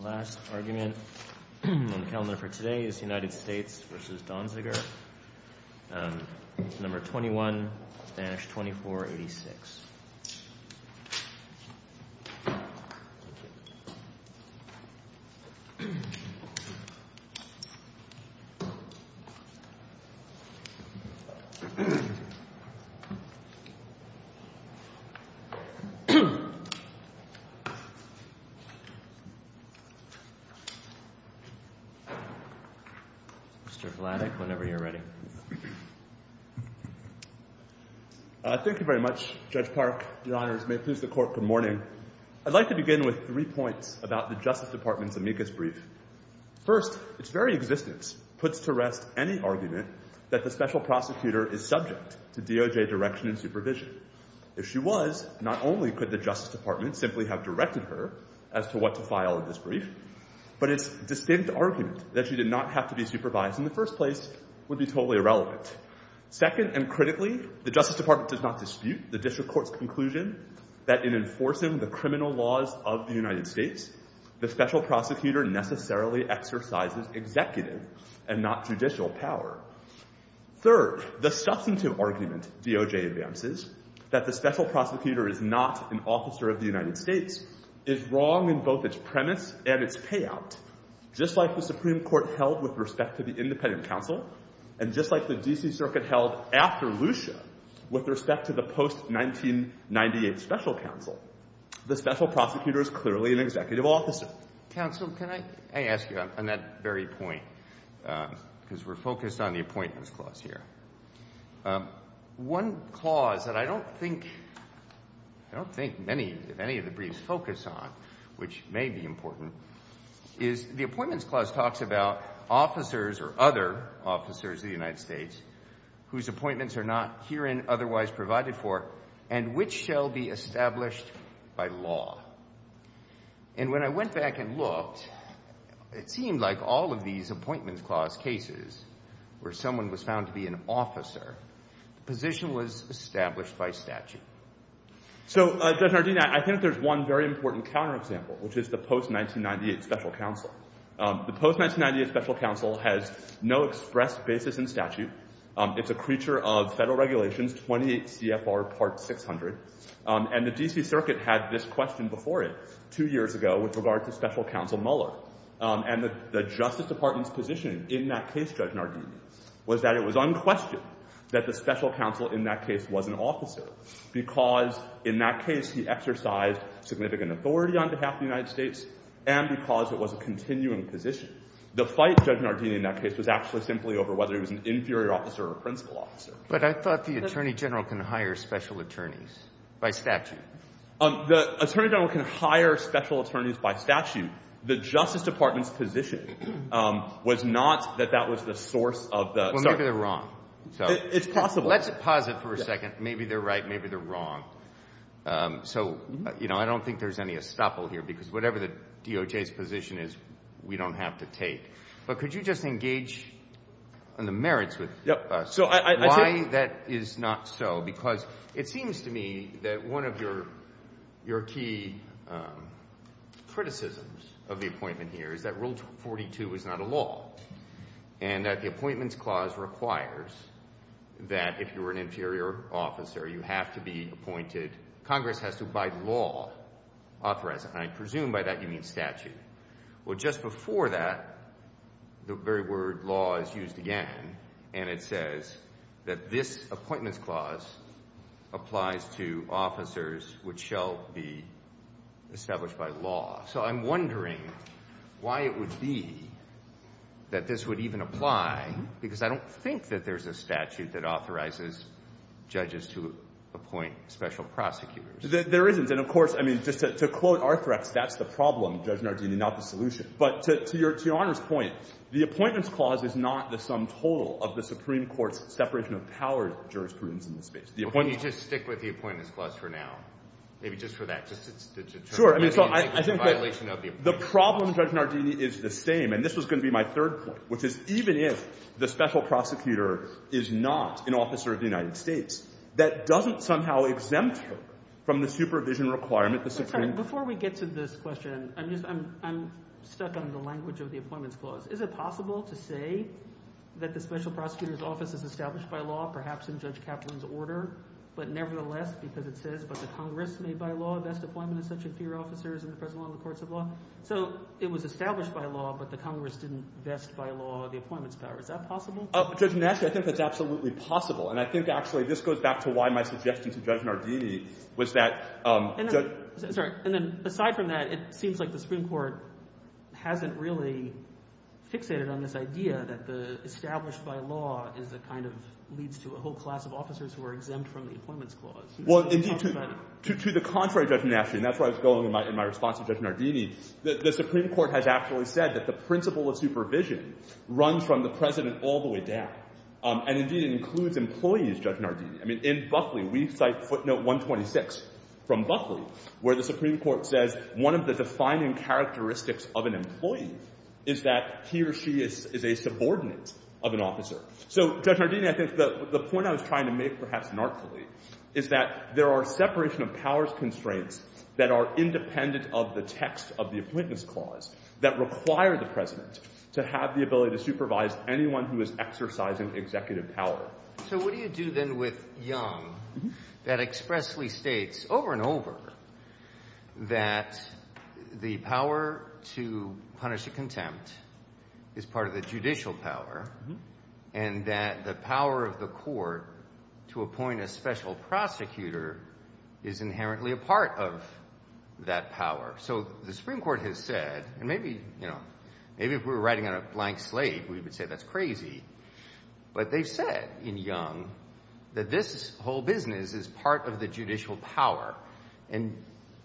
The last argument in the calendar for today is the United States v. Donziger, number 21-2486. I'd like to begin with three points about the Justice Department's amicus brief. First, its very existence puts to rest any argument that the Special Prosecutor is subject to DOJ direction and supervision. If she was, not only could the Justice Department simply have directed her as to what to file in this brief, but its distinct argument that she did not have to be supervised in the first place would be totally irrelevant. Second, and critically, the Justice Department does not dispute the District Court's conclusion that in enforcing the criminal laws of the United States, the Special Prosecutor necessarily exercises executive and not judicial power. Third, the substantive argument DOJ advances, that the Special Prosecutor is not an officer of the United States, is wrong in both its premise and its payout. Just like the Supreme Court held with respect to the Independent Counsel, and just like the D.C. Circuit held after Lucia with respect to the post-1998 Special Counsel, the Special Prosecutor is clearly an executive officer. Counsel, can I ask you on that very point, because we're focused on the Appointments Clause here. One clause that I don't think many of the briefs focus on, which may be important, is the Appointments Clause talks about officers or other officers of the United States whose appointments are not herein otherwise provided for, and which shall be established by law. And when I went back and looked, it seemed like all of these Appointments Clause cases where someone was found to be an officer, the position was established by statute. So, Judge Nardin, I think there's one very important counter-example, which is the post-1998 Special Counsel. The post-1998 Special Counsel has no express basis in statute. It's a creature of federal regulations, 28 CFR Part 600, and the D.C. Circuit had this question before it two years ago with regard to Special Counsel Mueller. And the Justice Department's position in that case, Judge Nardin, was that it was unquestioned that the Special Counsel in that case was an officer, because in that case he exercised significant authority on behalf of the United States, and because it was a continuing position. The fight, Judge Nardin, in that case was actually simply over whether he was an inferior officer or a principal officer. But I thought the Attorney General can hire special attorneys by statute. The Attorney General can hire special attorneys by statute. The Justice Department's position was not that that was the source of the… Well, maybe they're wrong. It's possible. Let's pause it for a second. Maybe they're right. Maybe they're wrong. So, you know, I don't think there's any estoppel here, because whatever the DOJ's position is, we don't have to take. But could you just engage on the merits of why that is not so? Because it seems to me that one of your key criticisms of the appointment here is that Rule 42 is not a law, and that the Appointments Clause requires that if you're an inferior officer, you have to be appointed. Congress has to abide by law, authorize it. And I presume by that you mean statute. Well, just before that, the very word law is used again, and it says that this Appointments Clause applies to officers which shall be established by law. So I'm wondering why it would be that this would even apply, because I don't think that there's a statute that authorizes judges to appoint special prosecutors. There isn't. And, of course, I mean, just to quote Arthur, that's the problem, Judge Nardini, not the solution. But to Your Honor's point, the Appointments Clause is not the sum total of the Supreme Court's separation of powers jurisprudence in this case. Well, can you just stick with the Appointments Clause for now? Maybe just for that. Sure. I mean, so I think that the problem, Judge Nardini, is the same. And this is going to be my third point, which is even if the special prosecutor is not an officer of the United States, that doesn't somehow exempt him from the supervision requirement. Before we get to this question, I'm stuck on the language of the Appointments Clause. Is it possible to say that the special prosecutor's office is established by law, perhaps in Judge Kaplan's order, but nevertheless, because it says, but the Congress made by law, best appointment of such and fewer officers in the federal law and the courts of law? So it was established by law, but the Congress didn't best by law the Appointments Clause. Is that possible? Judge Natchez, I think that's absolutely possible. And I think, actually, this goes back to why my suggestion to Judge Nardini was that— Sorry. And then aside from that, it seems like the Supreme Court hasn't really fixated on this idea that the established by law is a kind of—leads to a whole class of officers who are exempt from the Appointments Clause. Well, indeed, to the contrary, Judge Natchez, and that's why I was following my response to Judge Nardini, the Supreme Court has actually said that the principle of supervision runs from the president all the way down. And, indeed, it includes employees, Judge Nardini. I mean, in Buckley, we cite footnote 126 from Buckley, where the Supreme Court says one of the defining characteristics of an employee is that he or she is a subordinate of an officer. So, Judge Nardini, I think the point I was trying to make, perhaps narcally, is that there are separation of powers constraints that are independent of the text of the Appointments Clause that require the president to have the ability to supervise anyone who is exercising executive power. So what do you do then with Young that expressly states over and over that the power to punish a contempt is part of the judicial power, and that the power of the court to appoint a special prosecutor is inherently a part of that power? So the Supreme Court has said, and maybe, you know, maybe if we were writing on a blank slate, we would say that's crazy, but they said in Young that this whole business is part of the judicial power. And,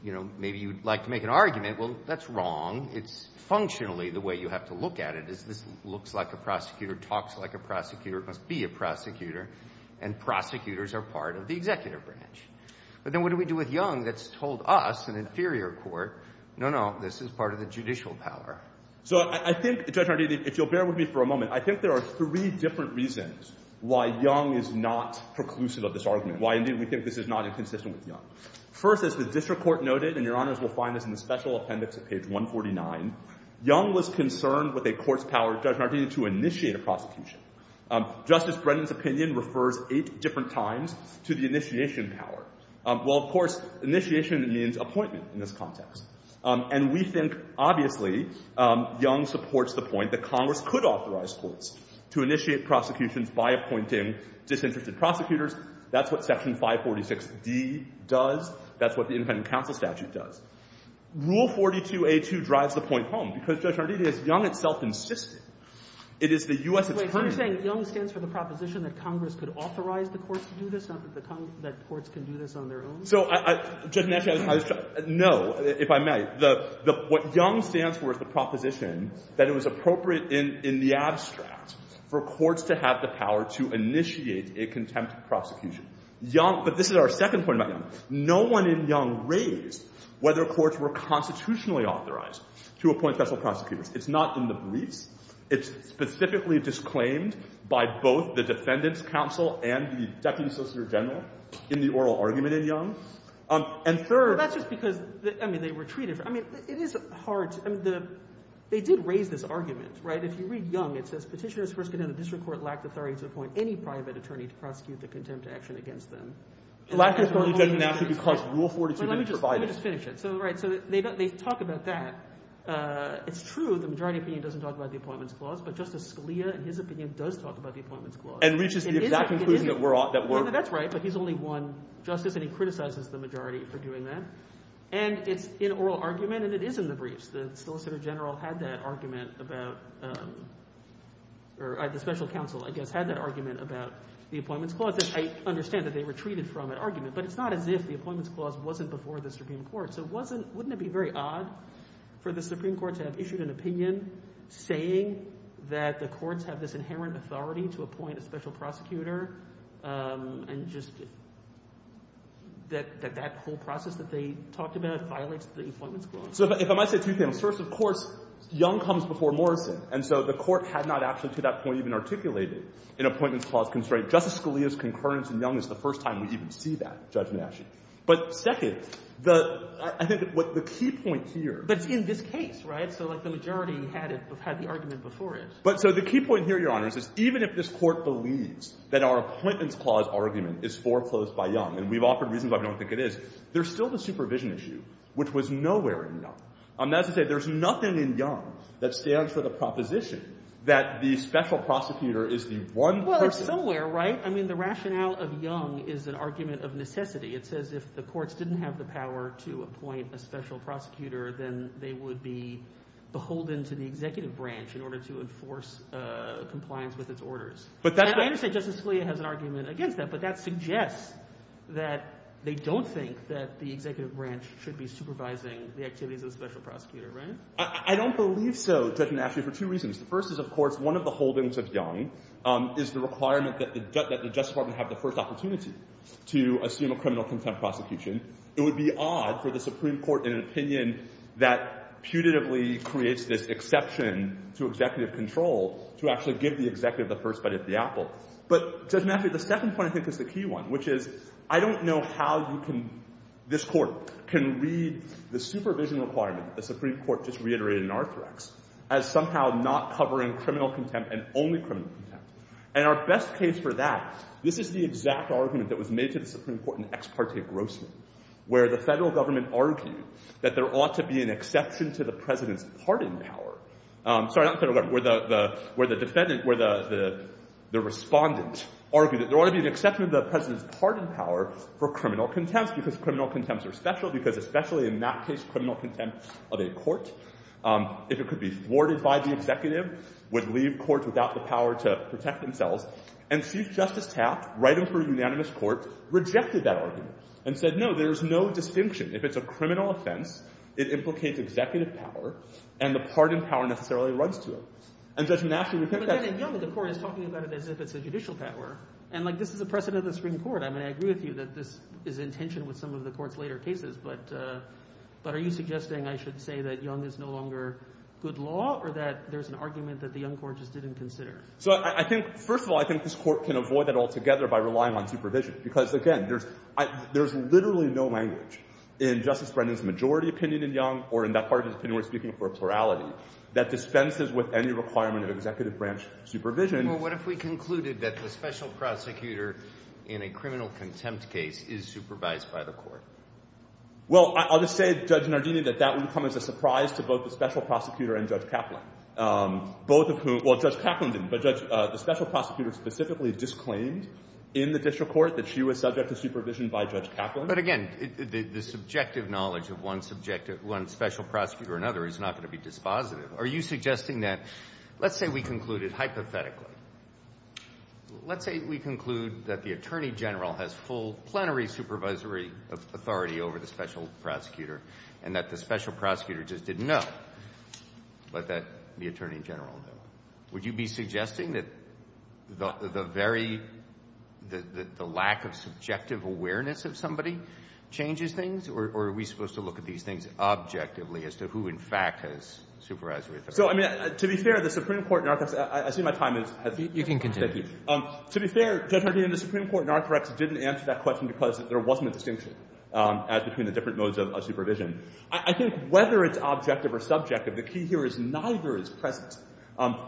you know, maybe you would like to make an argument, well, that's wrong. It's functionally the way you have to look at it is this looks like a prosecutor, talks like a prosecutor, must be a prosecutor, and prosecutors are part of the executive branch. But then what do we do with Young that's told us, an inferior court, no, no, this is part of the judicial power? So I think, Judge Nardini, if you'll bear with me for a moment, I think there are three different reasons why Young is not preclusive of this argument, why, indeed, we think this is not inconsistent with Young. First, as the district court noted, and Your Honors will find this in the special appendix at page 149, Young was concerned with a court's power, Judge Nardini, to initiate a prosecution. Justice Brennan's opinion refers eight different times to the initiation power. Well, of course, initiation means appointment in this context. And we think, obviously, Young supports the point that Congress could authorize courts to initiate prosecutions by appointing disinterested prosecutors. That's what Section 546B does. That's what the independent counsel statute does. Rule 42A2 drives the point home because, Judge Nardini, it's Young itself insisting. Wait, I'm saying Young stands for the proposition that Congress could authorize the courts to do this, not that courts can do this on their own? So, Judge Nardini, no, if I may, what Young stands for is the proposition that it was appropriate in the abstract for courts to have the power to initiate a contempt prosecution. But this is our second point about Young. No one in Young raised whether courts were constitutionally authorized to appoint special prosecutors. It's not in the brief. It's specifically disclaimed by both the defendants' counsel and the deputy associate general in the oral argument in Young. And third— Well, that's just because, I mean, they were treated—I mean, it is hard to—I mean, they did raise this argument, right? If you read Young, it says, Petitioners first condemned the district court lacked authority to appoint any private attorney to prosecute the contempt action against them. Lack of authority doesn't actually cause Rule 42B to provide it. Let me just finish it. So, right, so they talk about that. It's true the majority opinion doesn't talk about the Appointments Clause, but Justice Scalia, in his opinion, does talk about the Appointments Clause. And reaches the exact conclusion that we're— That's right, but he's only one justice, and he criticizes the majority for doing that. And it's in oral argument, and it is in the briefs. The solicitor general had that argument about—or the special counsel, I guess, had that argument about the Appointments Clause. I understand that they were treated for that argument, but it's not as if the Appointments Clause wasn't before the Supreme Court. So wouldn't it be very odd for the Supreme Court to have issued an opinion saying that the courts have this inherent authority to appoint a special prosecutor, and just that that whole process that they talked about violates the Appointments Clause? So if I might say two things. First, of course, Young comes before Morrison, and so the court had not actually, to that point, even articulated an Appointments Clause constraint. Justice Scalia's concurrence in Young is the first time we even see that, Judge Nash. But second, I think the key point here— But in this case, right? So the majority had the argument before it. So the key point here, Your Honor, is that even if this court believes that our Appointments Clause argument is foreclosed by Young, and we've offered reasons why we don't think it is, there's still the supervision issue, which was nowhere in Young. I'm about to say there's nothing in Young that stands for the proposition that the special prosecutor is the one person— Well, it's somewhere, right? I mean, the rationale of Young is an argument of necessity. It says if the courts didn't have the power to appoint a special prosecutor, then they would be beholden to the executive branch in order to enforce compliance with its orders. But that's— I understand Justice Scalia has an argument against that, but that suggests that they don't think that the executive branch should be supervising the activities of the special prosecutor, right? I don't believe so, Judge Nash, for two reasons. The first is, of course, one of the holdings of Young is the requirement that the Justice Department have the first opportunity to assume a criminal contempt prosecution. It would be odd for the Supreme Court, in an opinion that putatively creates this exception to executive control, to actually give the executive the first bite of the apple. But, Judge Nash, the second point, I think, is the key one, which is, I don't know how this court can read the supervision requirement the Supreme Court just reiterated in Arthrex as somehow not covering criminal contempt and only criminal contempt. And our best case for that, this is the exact argument that was made to the Supreme Court in Ex Parte Grosso, where the federal government argued that there ought to be an exception to the president's pardon power— sorry, not the federal government, where the defendant— where the respondent argued that there ought to be an exception to the president's pardon power for criminal contempt, because criminal contempts are special, because especially in that case, criminal contempt of a court, if it could be thwarted by the executive, would leave courts without the power to protect themselves. And Chief Justice Taft, right in front of unanimous courts, rejected that argument and said, no, there is no distinction. If it's a criminal offense, it implicates executive power, and the pardon power necessarily runs to it. And Judge Nash— But then, in general, the court is talking about it as if it's a judicial power. And, like, this is the precedent of the Supreme Court. I mean, I agree with you that this is in tension with some of the court's later cases, but are you suggesting, I should say, that Young is no longer good law, or that there's an argument that the Young court just didn't consider? So I think—first of all, I think this court can avoid that altogether by relying on supervision, because, again, there's literally no language in Justice Brennan's majority opinion in Young, or in that part of his opinion where he's speaking for plurality, that dispenses with any requirement of executive branch supervision. Well, what if we concluded that the special prosecutor in a criminal contempt case is supervised by the court? Well, I'll just say, Judge Nardini, that that would come as a surprise to both the special prosecutor and Judge Kaplan. Both of whom—well, Judge Kaplan didn't, but Judge— the special prosecutor specifically disclaimed in the district court that she was subject to supervision by Judge Kaplan. But, again, the subjective knowledge of one subjective— one special prosecutor or another is not going to be dispositive. Are you suggesting that—let's say we conclude it hypothetically. Let's say we conclude that the attorney general has full plenary supervisory authority over the special prosecutor, and that the special prosecutor just didn't know, but that the attorney general did. Would you be suggesting that the very— the lack of subjective awareness of somebody changes things, or are we supposed to look at these things objectively as to who, in fact, has supervisory authority? So, I mean, to be fair, the Supreme Court—I see my time is— You can continue. To be fair, Judge Nardini, the Supreme Court in our correctness didn't answer that question because there wasn't a distinction as between the different modes of supervision. I think whether it's objective or subjective, the key here is neither is present.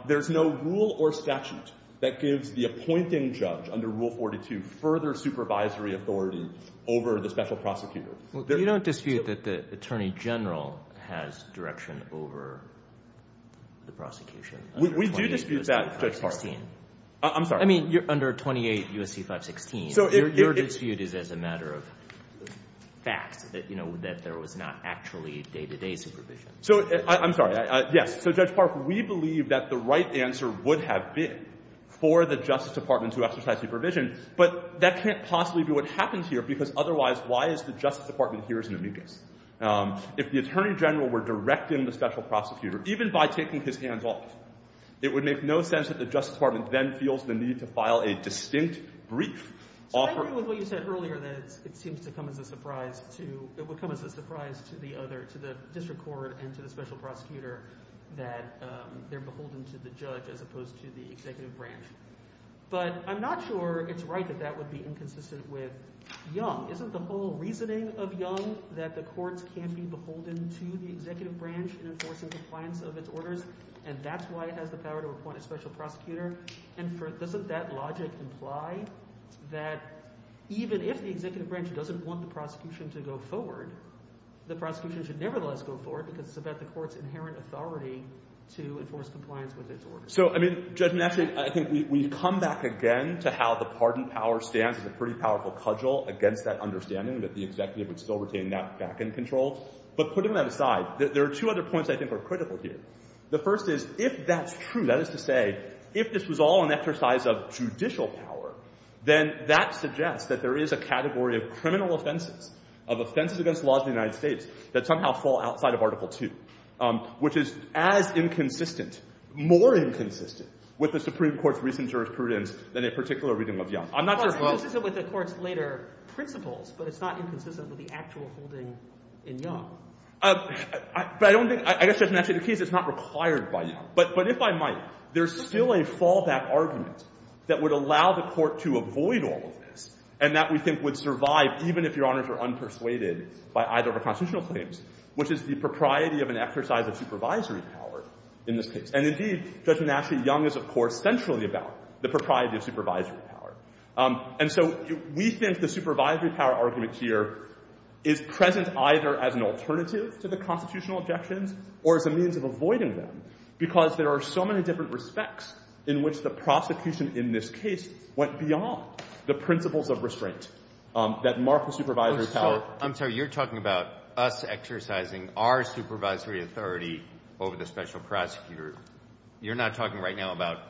There's no rule or statute that gives the appointing judge under Rule 42 further supervisory authority over the special prosecutor. You don't dispute that the attorney general has direction over the prosecution. We do dispute that, Judge Park. I mean, under 28 U.S.C. 516, you're disputed as a matter of fact, that there was not actually day-to-day supervision. So, I'm sorry. Yes, so, Judge Park, we believe that the right answer would have been for the Justice Department to exercise supervision, but that can't possibly be what happens here because otherwise, why is the Justice Department here as an immediate? If the attorney general were directing the special prosecutor, even by taking his hands off, it would make no sense that the Justice Department then feels the need to file a distinct brief offering— I agree with what you said earlier that it seems to come as a surprise to— it would come as a surprise to the other—to the district court and to the special prosecutor that they're beholden to the judge as opposed to the executive branch. But I'm not sure it's right that that would be inconsistent with Young. Isn't the whole reasoning of Young that the courts can't be beholden to the executive branch in enforcing compliance of its orders and that's why it has the power to appoint a special prosecutor? And doesn't that logic imply that even if the executive branch doesn't want the prosecution to go forward, the prosecution should nevertheless go forward because it's about the court's inherent authority to enforce compliance with its orders? So, I mean, Judge Nash, I think we come back again to how the pardon power stands as a pretty powerful cudgel against that understanding that the executive would still retain that back-end control. But putting that aside, there are two other points I think are critical here. The first is, if that's true, that is to say, if this was all an exercise of judicial power, then that suggests that there is a category of criminal offenses, of offenses against the laws of the United States, that somehow fall outside of Article II, which is as inconsistent, more inconsistent, with the Supreme Court's recent jurisprudence than a particular reading of Young. I'm not sure if I'm... It's consistent with the court's later principles, but it's not inconsistent with the actual holding in Young. But I don't think... I guess, Judge Nash, in this case, it's not required by Young. But if I might, there's still a fallback argument that would allow the court to avoid all of this and that we think would survive, even if Your Honors are unpersuaded by either of the constitutional claims, which is the propriety of an exercise of supervisory power in this case. And indeed, Judge Nash v. Young is, of course, centrally about the propriety of supervisory power. And so we think the supervisory power argument here is present either as an alternative to the constitutional objection or as a means of avoiding them because there are so many different respects in which the prosecution in this case went beyond the principles of restraint that mark the supervisory power. Well, I'm sorry, you're talking about us exercising our supervisory authority over the special prosecutor. You're not talking right now about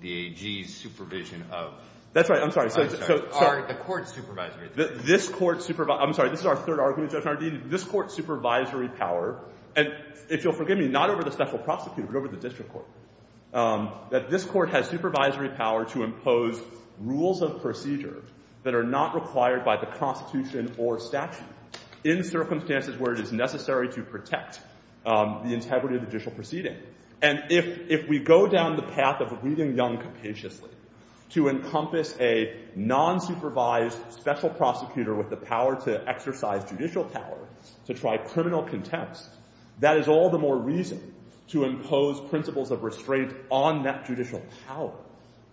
the AG's supervision of... That's right, I'm sorry. I'm sorry, the court's supervisory... This court's superv... I'm sorry, this is our third argument, Judge Nardini. This court's supervisory power... And if you'll forgive me, not over the special prosecutor, but over the district court. That this court has supervisory power to impose rules of procedure that are not required by the Constitution or statute in circumstances where it is necessary to protect the integrity of judicial proceeding. And if we go down the path of reading Young capaciously to encompass a non-supervised special prosecutor with the power to exercise judicial power to try criminal contempt, that is all the more reason to impose principles of restraint on that judicial power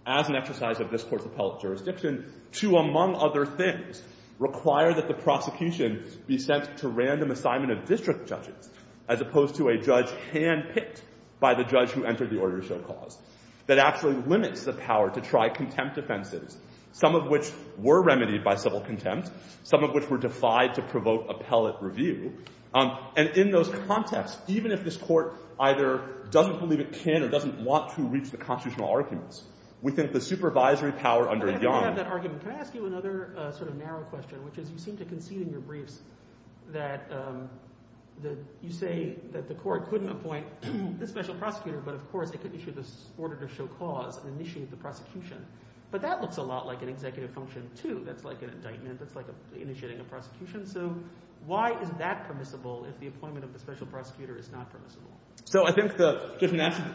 as an exercise of this court's appellate jurisdiction to, among other things, require that the prosecution be sent to random assignment of district judges as opposed to a judge hand-picked by the judge who entered the order to show cause, that actually limits the power to try contempt offenses, some of which were remedied by civil contempt, some of which were defied to provoke appellate review. And in those contexts, even if this court either doesn't believe it can or doesn't want to reach the constitutional arguments, we think the supervisory power under Young... Can I ask you another sort of narrow question, which is you seem to concede in your briefs that you say that the court couldn't appoint this special prosecutor, but of course it could issue this order to show cause and initiate the prosecution. But that looks a lot like an executive function, too. It's like an indictment. It's like initiating a prosecution. So why is that permissible if the appointment of the special prosecutor is not permissible? So I think the...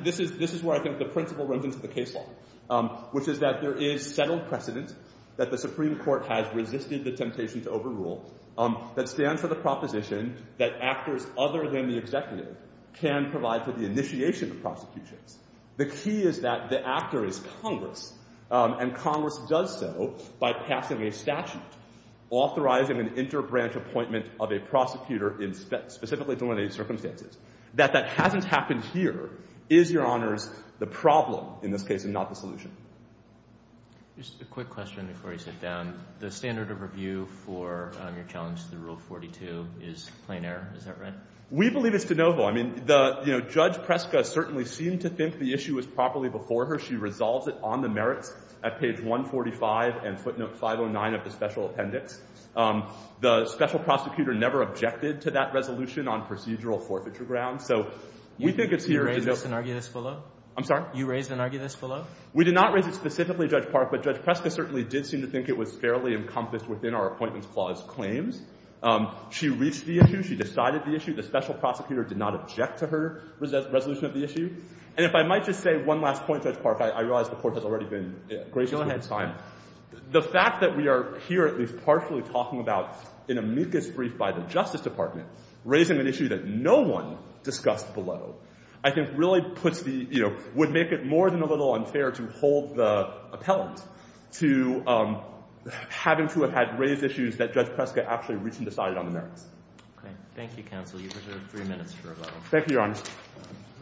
This is where I think the principle runs into the case law, which is that there is settled precedent that the Supreme Court has resisted the temptation to overrule that stands for the proposition that actors other than the executive can provide for the initiation of the prosecution. The key is that the actor is Congress, and Congress does so by passing a statute authorizing an inter-branch appointment of a prosecutor in specifically delineated circumstances, that that hasn't happened here, is, Your Honors, the problem in this case and not the solution. Just a quick question before you sit down. The standard of review for your challenge to Rule 42 is plain error, is that right? We believe it's de novo. I mean, Judge Preska certainly seemed to think the issue was properly before her. She resolved it on the merit at page 145 and footnote 509 of the special appendix. The special prosecutor never objected to that resolution on procedural forfeiture grounds. So we think it's here. You raised an argument below? I'm sorry? You raised an argument below? We did not raise it specifically, Judge Park, but Judge Preska certainly did seem to think it was fairly encompassed within our Appointments Clause claims. She reached the issue. She decided the issue. The special prosecutor did not object to her resolution of the issue. And if I might just say one last point, Judge Park, I realize the Court has already been gracious with its time. The fact that we are here at least partially talking about an amicus brief by the Justice Department, raising an issue that no one discussed below, I think really puts the, you know, would make it more than a little unfair to hold the appellant to having to have had related issues that Judge Preska actually reached and decided on there. Okay. Thank you, counsel. You deserve three minutes to revise. Thank you, Your Honor.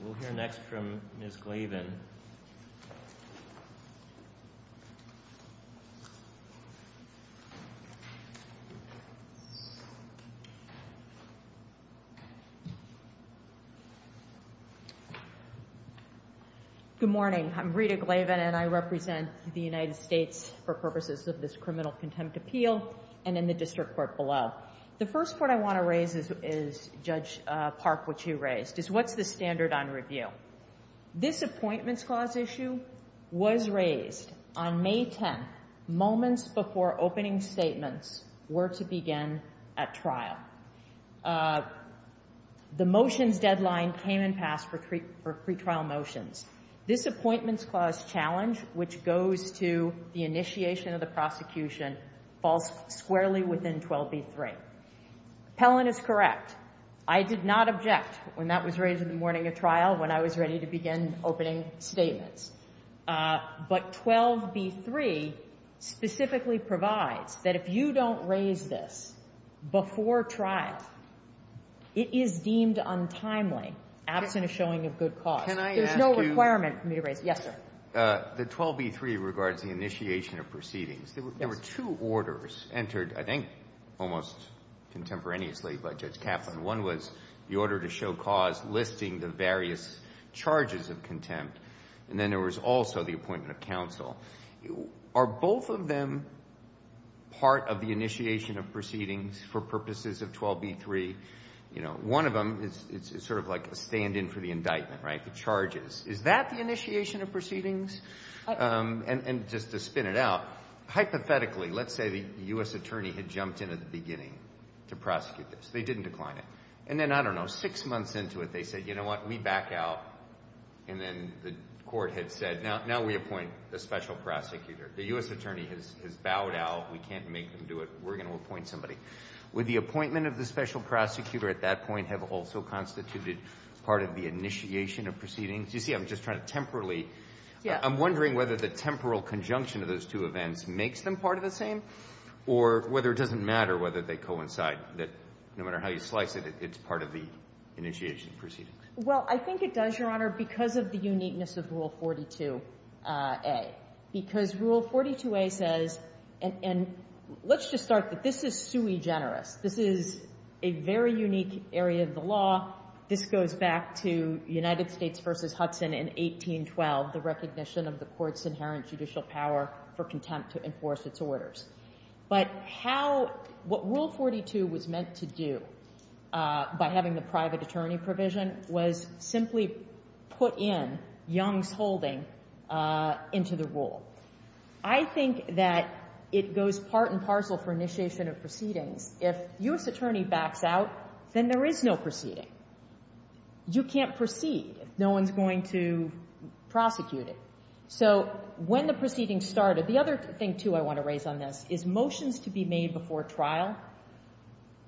We'll hear next from Ms. Glavin. Good morning. I'm Rita Glavin, and I represent the United States for purposes of this criminal contempt appeal and in the District Court below. The first point I want to raise is, Judge Park, what you raised, is what's the standard on review? This Appointments Clause issue was raised on May 10th, moments before opening statements were to begin at trial. The motion deadline came and passed for pretrial motions. This Appointments Clause challenge, which goes to the initiation of the prosecution, falls squarely within 12b-3. Appellant is correct. I did not object when that was raised in the morning of trial when I was ready to begin opening statements. But 12b-3 specifically provides that if you don't raise this before trial, it is deemed untimely, absent of showing of good cause. There's no requirement for me to raise it. Yes, sir. The 12b-3 regards the initiation of proceedings. There were two orders entered, I think, almost contemporaneously by Judge Kaplan. One was the order to show cause, listing the various charges of contempt, and then there was also the appointment of counsel. Are both of them part of the initiation of proceedings for purposes of 12b-3? One of them is sort of like a stand-in for the indictment, the charges. Is that the initiation of proceedings? And just to spin it out, hypothetically, let's say the U.S. attorney had jumped in at the beginning to prosecute this. They didn't decline it. And then, I don't know, six months into it, they said, you know what, we back out. And then the court had said, now we appoint a special prosecutor. The U.S. attorney has bowed out. We can't make them do it. We're going to appoint somebody. Would the appointment of the special prosecutor at that point have also constituted part of the initiation of proceedings? You see, I'm just trying to temporally... I'm wondering whether the temporal conjunction of those two events makes them part of the same or whether it doesn't matter whether they coincide, that no matter how you slice it, it's part of the initiation of proceedings. Well, I think it does, Your Honor, because of the uniqueness of Rule 42A. Because Rule 42A says... And let's just start that this is too egenerous. This is a very unique area of the law. This goes back to United States v. Hudson in 1812, the recognition of the court's inherent judicial power for contempt to enforce its orders. But what Rule 42 was meant to do by having the private attorney provision was simply put in Young's holding into the rule. I think that it goes part and parcel for initiation of proceedings. If your attorney backs out, then there is no proceeding. You can't proceed if no one's going to prosecute it. So when the proceedings started... The other thing, too, I want to raise on this is motions to be made before trial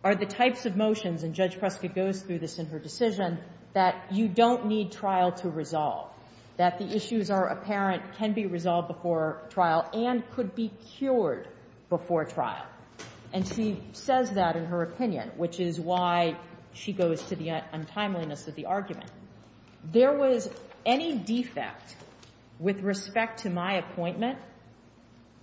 are the types of motions, and Judge Prescott goes through this in her decision, that you don't need trial to resolve, that the issues are apparent, can be resolved before trial, and could be cured before trial. And she says that in her opinion, which is why she goes to the untimeliness of the argument. There was any defect with respect to my appointment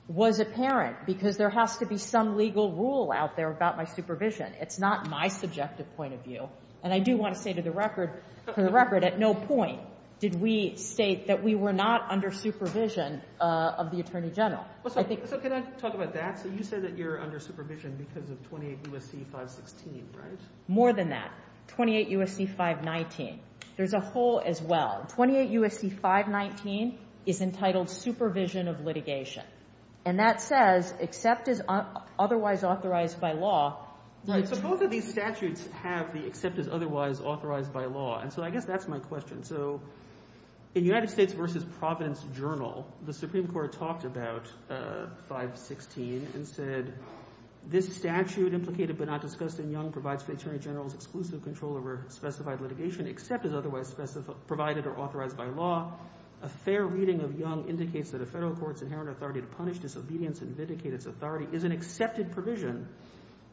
was apparent because there has to be some legal rule out there about my supervision. It's not my subjective point of view. And I do want to say to the record, at no point did we state that we were not under supervision of the Attorney General. So can I talk about that? You said that you're under supervision because of 28 U.S.C. 516, right? More than that. 28 U.S.C. 519. There's a hole as well. 28 U.S.C. 519 is entitled Supervision of Litigation. And that says, except otherwise authorized by law, but both of these statutes have the excepted otherwise authorized by law. And so I guess that's my question. So in United States versus Providence Journal, the Supreme Court talked about 516 and said, this statute, implicated but not discussed in Young, provides the Attorney General's exclusive control over specified litigation, except as otherwise provided or authorized by law. A fair reading of Young indicates that a federal court's inherent authority to punish disobedience and vindicate its authority is an accepted provision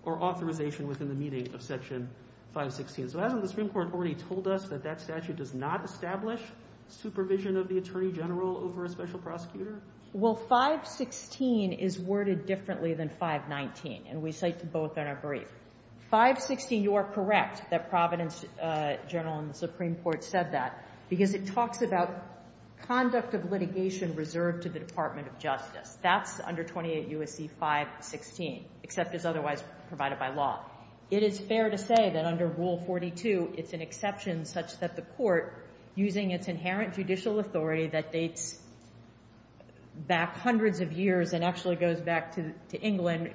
or authorization within the meaning of Section 516. So hasn't the Supreme Court already told us that that statute does not establish supervision of the Attorney General over a special prosecutor? Well, 516 is worded differently than 519, and we cite both in our brief. 516, you are correct that Providence Journal and the Supreme Court said that, because it talks about conduct of litigation reserved to the Department of Justice. That's under 28 U.S.C. 516, except as otherwise provided by law. It is fair to say that under Rule 42, it's an exception such that the court, using its inherent judicial authority that dates back hundreds of years and actually goes back to England,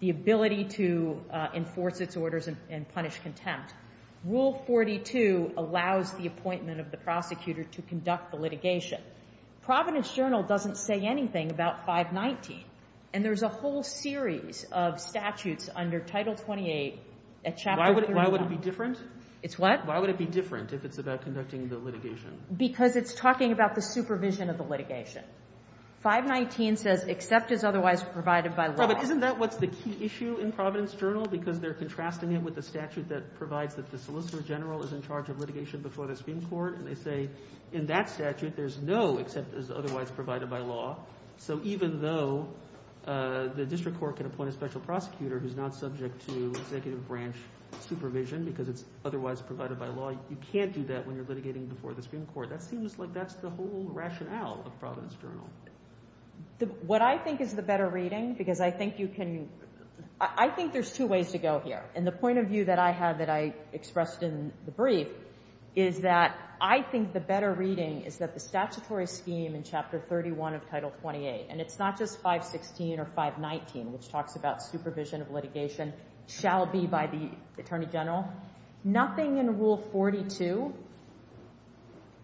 the ability to enforce its orders and punish contempt. Rule 42 allows the appointment of the prosecutor to conduct the litigation. Providence Journal doesn't say anything about 519, and there's a whole series of statutes under Title 28 at Chapter 37. Why would it be different? It's what? Why would it be different if it's about conducting the litigation? Because it's talking about the supervision of the litigation. 519 says, except as otherwise provided by law. But isn't that what's the key issue in Providence Journal? Because they're contrasting it with the statute that provides that the Solicitor General is in charge of litigation before the Supreme Court, and they say in that statute, there's no except as otherwise provided by law. So even though the district court can appoint a special prosecutor who's not subject to executive branch supervision because it's otherwise provided by law, you can't do that when you're litigating before the Supreme Court. That seems like that's the whole rationale of Providence Journal. What I think is the better reading, because I think you can... I think there's two ways to go here, and the point of view that I have that I expressed in the brief is that I think the better reading is that the statutory scheme in Chapter 31 of Title 28, and it's not just 516 or 519, which talks about supervision of litigation, shall be by the Attorney General. Nothing in Rule 42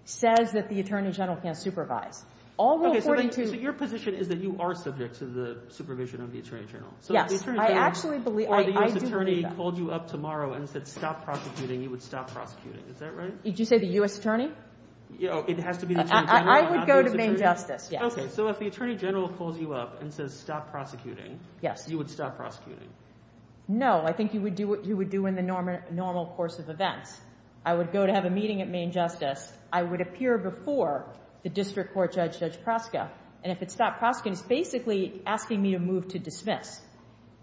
says that the Attorney General can't supervise. All Rule 42... So your position is that you are subject to the supervision of the Attorney General? Yes, I actually believe that. So if the Attorney pulled you up tomorrow and said, stop prosecuting, you would stop prosecuting, is that right? Did you say the U.S. Attorney? It has to be... I would go to Maine Justice. Okay, so if the Attorney General pulls you up and says, stop prosecuting, you would stop prosecuting? No, I think you would do what you would do in the normal course of events. I would go to have a meeting at Maine Justice. I would appear before the District Court Judge, Judge Proska, and if it stopped prosecuting, it's basically asking me to move to dismiss.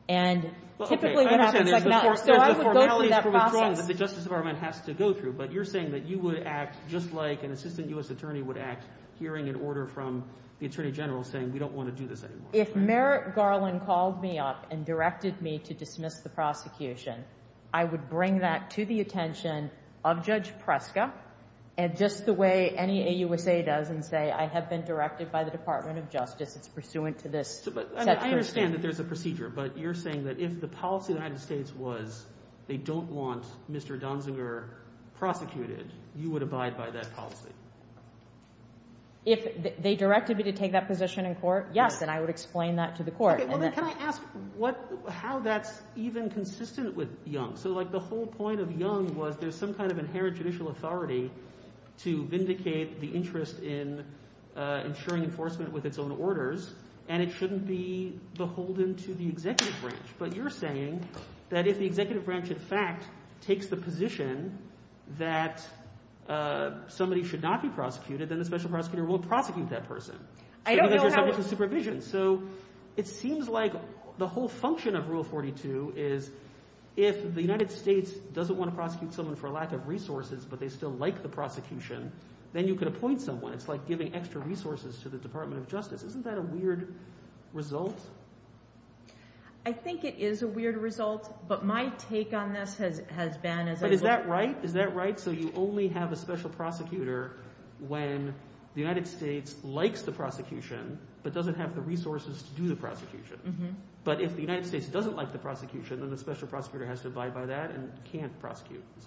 And typically what happens... The Justice Department has to go through, but you're saying that you would act just like an Assistant U.S. Attorney would act hearing an order from the Attorney General saying we don't want to do this anymore. If Merrick Garland called me up and directed me to dismiss the prosecution, I would bring that to the attention of Judge Proska and just the way any AUSA does and say I have been directed by the Department of Justice pursuant to this... I understand that there's a procedure, but you're saying that if the policy of the United States was they don't want Mr. Donziger prosecuted, you would abide by that policy? If they directed me to take that position in court, yes. And I would explain that to the court. Can I ask how that's even consistent with Young? So like the whole point of Young was there's some kind of inherent judicial authority to vindicate the interest in ensuring enforcement with its own orders and it shouldn't be beholden to the executive branch. But you're saying that if the executive branch in fact takes the position that somebody should not be prosecuted, then the special prosecutor will prosecute that person. I don't know how... It's a supervision. So it seems like the whole function of Rule 42 is if the United States doesn't want to prosecute someone for lack of resources, but they still like the prosecution, then you can appoint someone. It's like giving extra resources to the Department of Justice. Isn't that a weird result? I think it is a weird result, but my take on this has been... But is that right? Is that right? So you only have a special prosecutor when the United States likes the prosecution but doesn't have the resources to do the prosecution. But if the United States doesn't like the prosecution, then the special prosecutor has to abide by that and can't prosecute. Is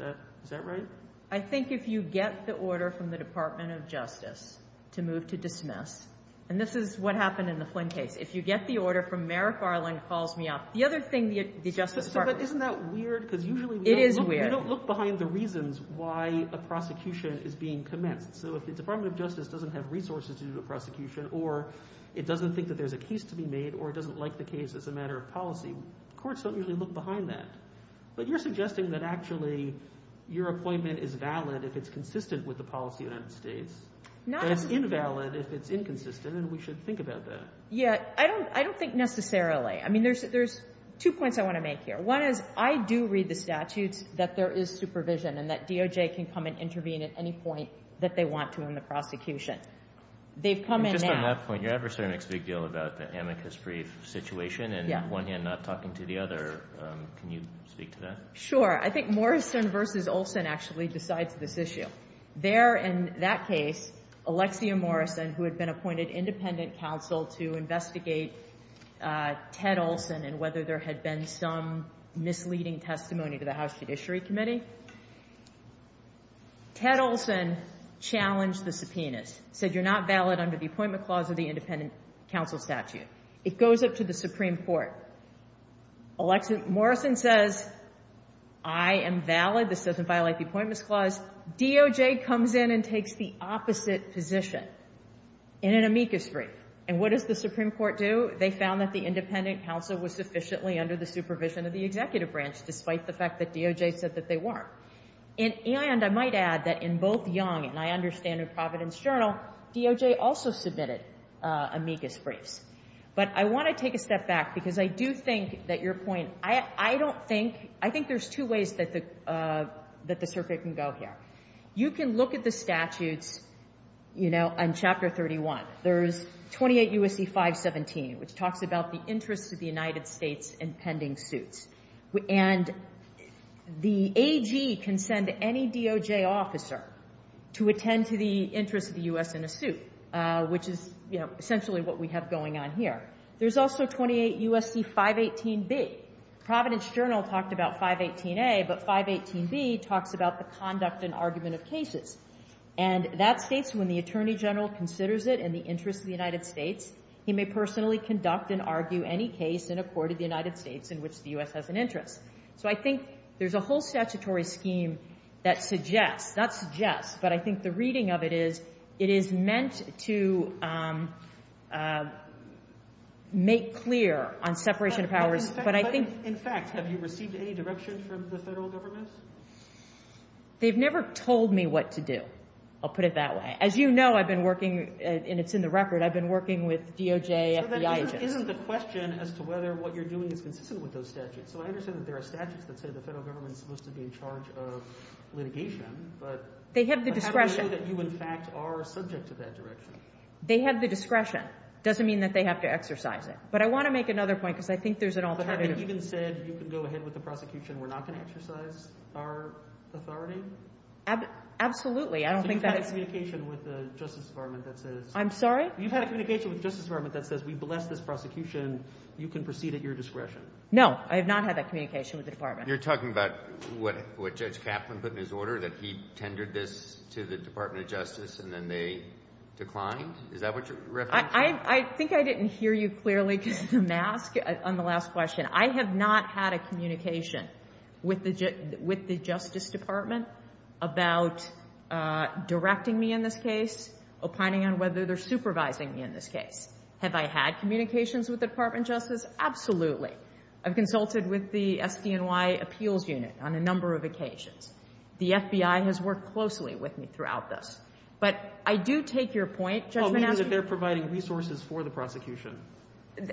that right? I think if you get the order from the Department of Justice to move to dismiss, and this is what happened in the Flynn case, if you get the order from Mayor Farley, it calls me out. The other thing... Isn't that weird? It is weird. You don't look behind the reasons why a prosecution is being commenced. So if the Department of Justice doesn't have resources to do the prosecution or it doesn't think that there's a case to be made or doesn't like the case as a matter of policy, courts don't usually look behind that. But you're suggesting that actually your appointment is valid if it's consistent with the policy of the United States and invalid if it's inconsistent, and we should think about that. Yes. I don't think necessarily. I mean, there's two points I want to make here. One is I do read the statute that there is supervision and that DOJ can come and intervene at any point that they want to in the prosecution. They've come in now... Just one last point. Your adversary makes a big deal about the amicus brief situation and on one hand not talking to the other. Can you speak to that? Sure. I think Morrison v. Olson actually decides this issue. There in that case, Alexia Morrison, who had been appointed independent counsel to investigate Ted Olson and whether there had been some misleading testimony to the House Judiciary Committee. Ted Olson challenged the subpoena, said you're not valid under the appointment clause of the independent counsel statute. It goes up to the Supreme Court. Morrison says, I am valid. This doesn't violate the appointment clause. DOJ comes in and takes the opposite position in an amicus brief. And what does the Supreme Court do? They found that the independent counsel was sufficiently under the supervision of the executive branch despite the fact that DOJ said that they weren't. And I might add that in both Young and I understand in Providence Journal, DOJ also submitted amicus briefs. But I want to take a step back because I do think that your point... I don't think... I think there's two ways that the circuit can go here. You can look at the statute on Chapter 31. There's 28 U.S.C. 517, which talks about the interest of the United States in pending suit. And the AG can send any DOJ officer to attend to the interest of the U.S. in a suit, which is essentially what we have going on here. There's also 28 U.S.C. 518B. Providence Journal talked about 518A, but 518B talks about the conduct and argument of cases. And that states, when the Attorney General considers it in the interest of the United States, he may personally conduct and argue any case in a court of the United States in which the U.S. has an interest. So I think there's a whole statutory scheme that suggests... Not suggests, but I think the reading of it is it is meant to make clear on separation of powers. In fact, have you received any directions from the federal government? They've never told me what to do. I'll put it that way. As you know, I've been working, and it's in the record, I've been working with DOJ, FBI agents. But isn't the question as to whether what you're doing is consistent with those statutes? So I understand that there are statutes that say the federal government is supposed to be in charge of litigation, but... They have the discretion. I don't know that you, in fact, are subject to that direction. They have the discretion. It doesn't mean that they have to exercise it. But I want to make another point because I think there's an alternative. Have they even said, you can go ahead with the prosecution, we're not going to exercise our authority? Absolutely. I don't think that... Do you have communication with the Justice Department that says... I'm sorry? Do you have communication with the Justice Department that says, we've blessed this prosecution, you can proceed at your discretion? No, I have not had that communication with the Department. You're talking about what Judge Kaplan put in his order, that he tendered this to the Department of Justice, and then they declined? Is that what you're referring to? I think I didn't hear you clearly on the last question. I have not had a communication with the Justice Department about directing me in this case or planning on whether they're supervising me in this case. Have I had communications with the Department of Justice? Absolutely. I've consulted with the SBNY Appeals Unit on a number of occasions. The FBI has worked closely with me throughout this. But I do take your point... Well, I mean that they're providing resources for the prosecution.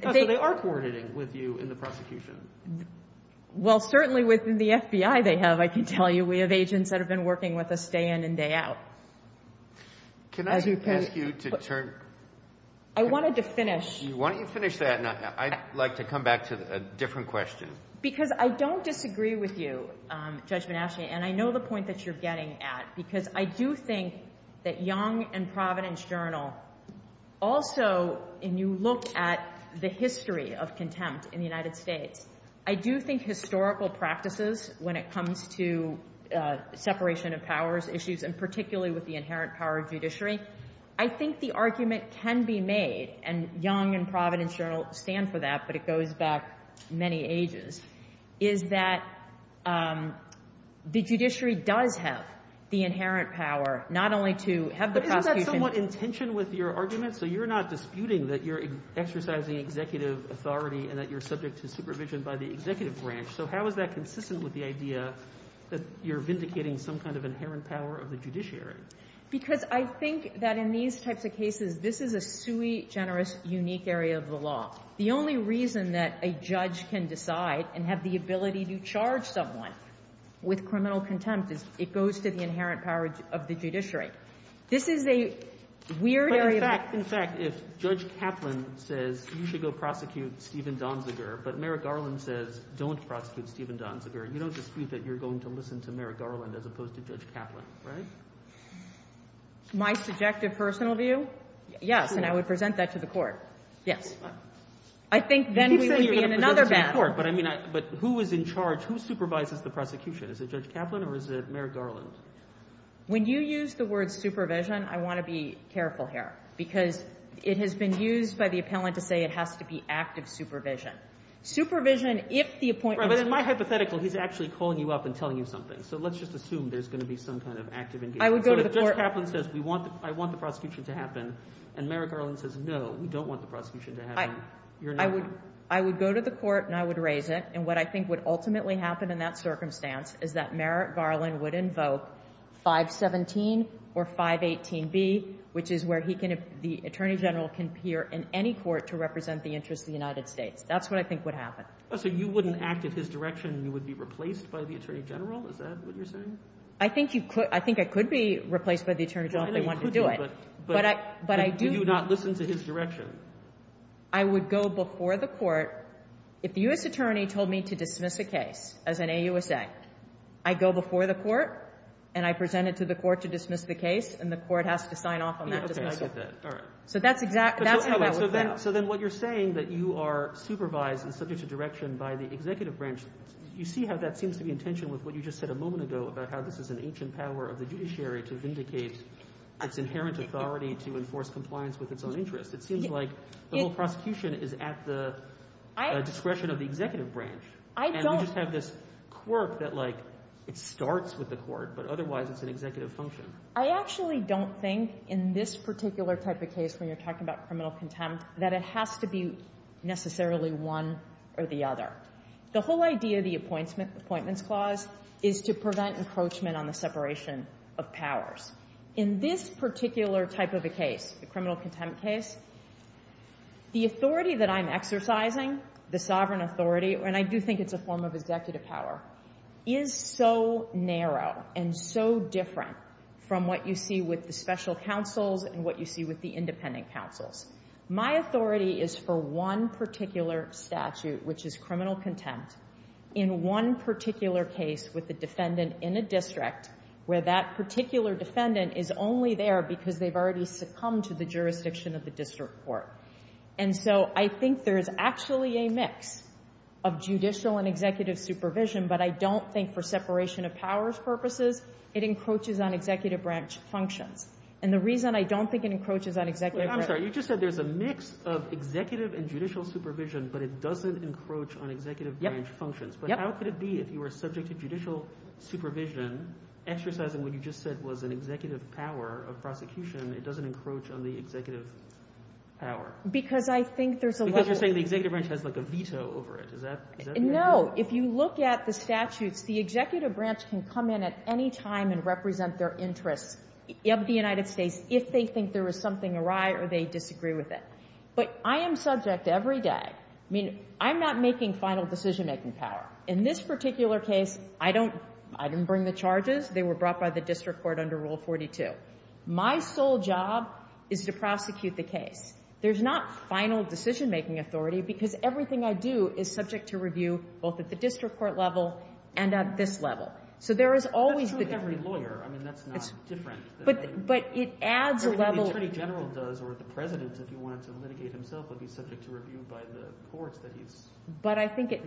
But they are coordinating with you in the prosecution. Well, certainly within the FBI they have, I can tell you. We have agents that have been working with us day in and day out. Can I just ask you to turn... I wanted to finish... Why don't you finish that, and I'd like to come back to a different question. Because I don't disagree with you, Judge Benashia, and I know the point that you're getting at, because I do think that Young and Providence Journal also, and you look at the history of contempt in the United States, I do think historical practices when it comes to separation of powers issues, and particularly with the inherent power of judiciary, I think the argument can be made, and Young and Providence Journal stand for that, but it goes back many ages, is that the judiciary does have the inherent power not only to have the prosecution... I don't agree with your argument, so you're not disputing that you're exercising executive authority and that you're subject to supervision by the executive branch, so how is that consistent with the idea that you're vindicating some kind of inherent power of the judiciary? Because I think that in these types of cases, this is a sui generis unique area of the law. The only reason that a judge can decide and have the ability to charge someone with criminal contempt is it goes to the inherent power of the judiciary. This is a weird area... In fact, if Judge Kaplan says you should go prosecute Stephen Donziger, but Merrick Garland says don't prosecute Stephen Donziger, you don't dispute that you're going to listen to Merrick Garland as opposed to Judge Kaplan, right? My subjective personal view? Yes, and I would present that to the court. Yes. I think then we would be in another battle. But who is in charge? Who supervises the prosecution? Is it Judge Kaplan or is it Merrick Garland? When you use the word supervision, I want to be careful here because it has been used by the appellant to say it has to be active supervision. Supervision, if the appointment... Right, but in my hypothetical, he's actually calling you up and telling you something. So let's just assume there's going to be some kind of active... I would go to the court... But if Judge Kaplan says I want the prosecution to happen, and Merrick Garland says no, we don't want the prosecution to happen, you're not... I would go to the court and I would raise it, and what I think would ultimately happen in that circumstance is that Merrick Garland would invoke 517 or 518B, which is where the Attorney General can appear in any court to represent the interests of the United States. That's what I think would happen. So you wouldn't act in his direction and you would be replaced by the Attorney General? Is that what you're saying? I think I could be replaced by the Attorney General if they wanted to do it. But you do not listen to his direction. I would go before the court... If the U.S. Attorney told me to dismiss the case as an AUSA, I go before the court, and I present it to the court to dismiss the case, and the court has to sign off on that. Okay, I get that. So that's exactly... So then what you're saying, that you are supervised and subject to direction by the executive branch, you see how that seems to be in tension with what you just said a moment ago about how this is an ancient power of the judiciary to vindicate its inherent authority to enforce compliance with its own interests. It seems like the whole prosecution is at the discretion of the executive branch. I don't... And you just have this quirk that it starts with the court, but otherwise it's an executive function. I actually don't think in this particular type of case when you're talking about criminal contempt that it has to be necessarily one or the other. The whole idea of the Appointments Clause is to prevent encroachment on the separation of powers. In this particular type of a case, the criminal contempt case, the authority that I'm exercising, the sovereign authority, and I do think it's a form of executive power, is so narrow and so different from what you see with the special counsels and what you see with the independent counsels. My authority is for one particular statute, which is criminal contempt, in one particular case with the defendant in a district where that particular defendant is only there because they've already succumbed to the jurisdiction of the district court. And so I think there's actually a mix of judicial and executive supervision, but I don't think for separation of powers purposes it encroaches on executive branch function. And the reason I don't think it encroaches on executive branch... I'm sorry, you just said there's a mix of executive and judicial supervision, but it doesn't encroach on executive branch function. But how could it be if you were subject to judicial supervision exercising what you just said was an executive power of prosecution, it doesn't encroach on the executive power? Because I think there's a level... Because you're saying the executive branch has a veto over it. No, if you look at the statute, the executive branch can come in at any time and represent their interest of the United States if they think there was something awry or they disagree with it. But I am subject every day. I mean, I'm not making final decision-making power. In this particular case, I didn't bring the charges. They were brought by the district court under Rule 42. My sole job is to prosecute the case. There's not final decision-making authority because everything I do is subject to review both at the district court level and at this level. So there is always... That's true of every lawyer. I mean, that's not different. But it adds a level of... The Attorney General does or the President, if he wanted to litigate himself, would be subject to review by the court that he's... But I think it...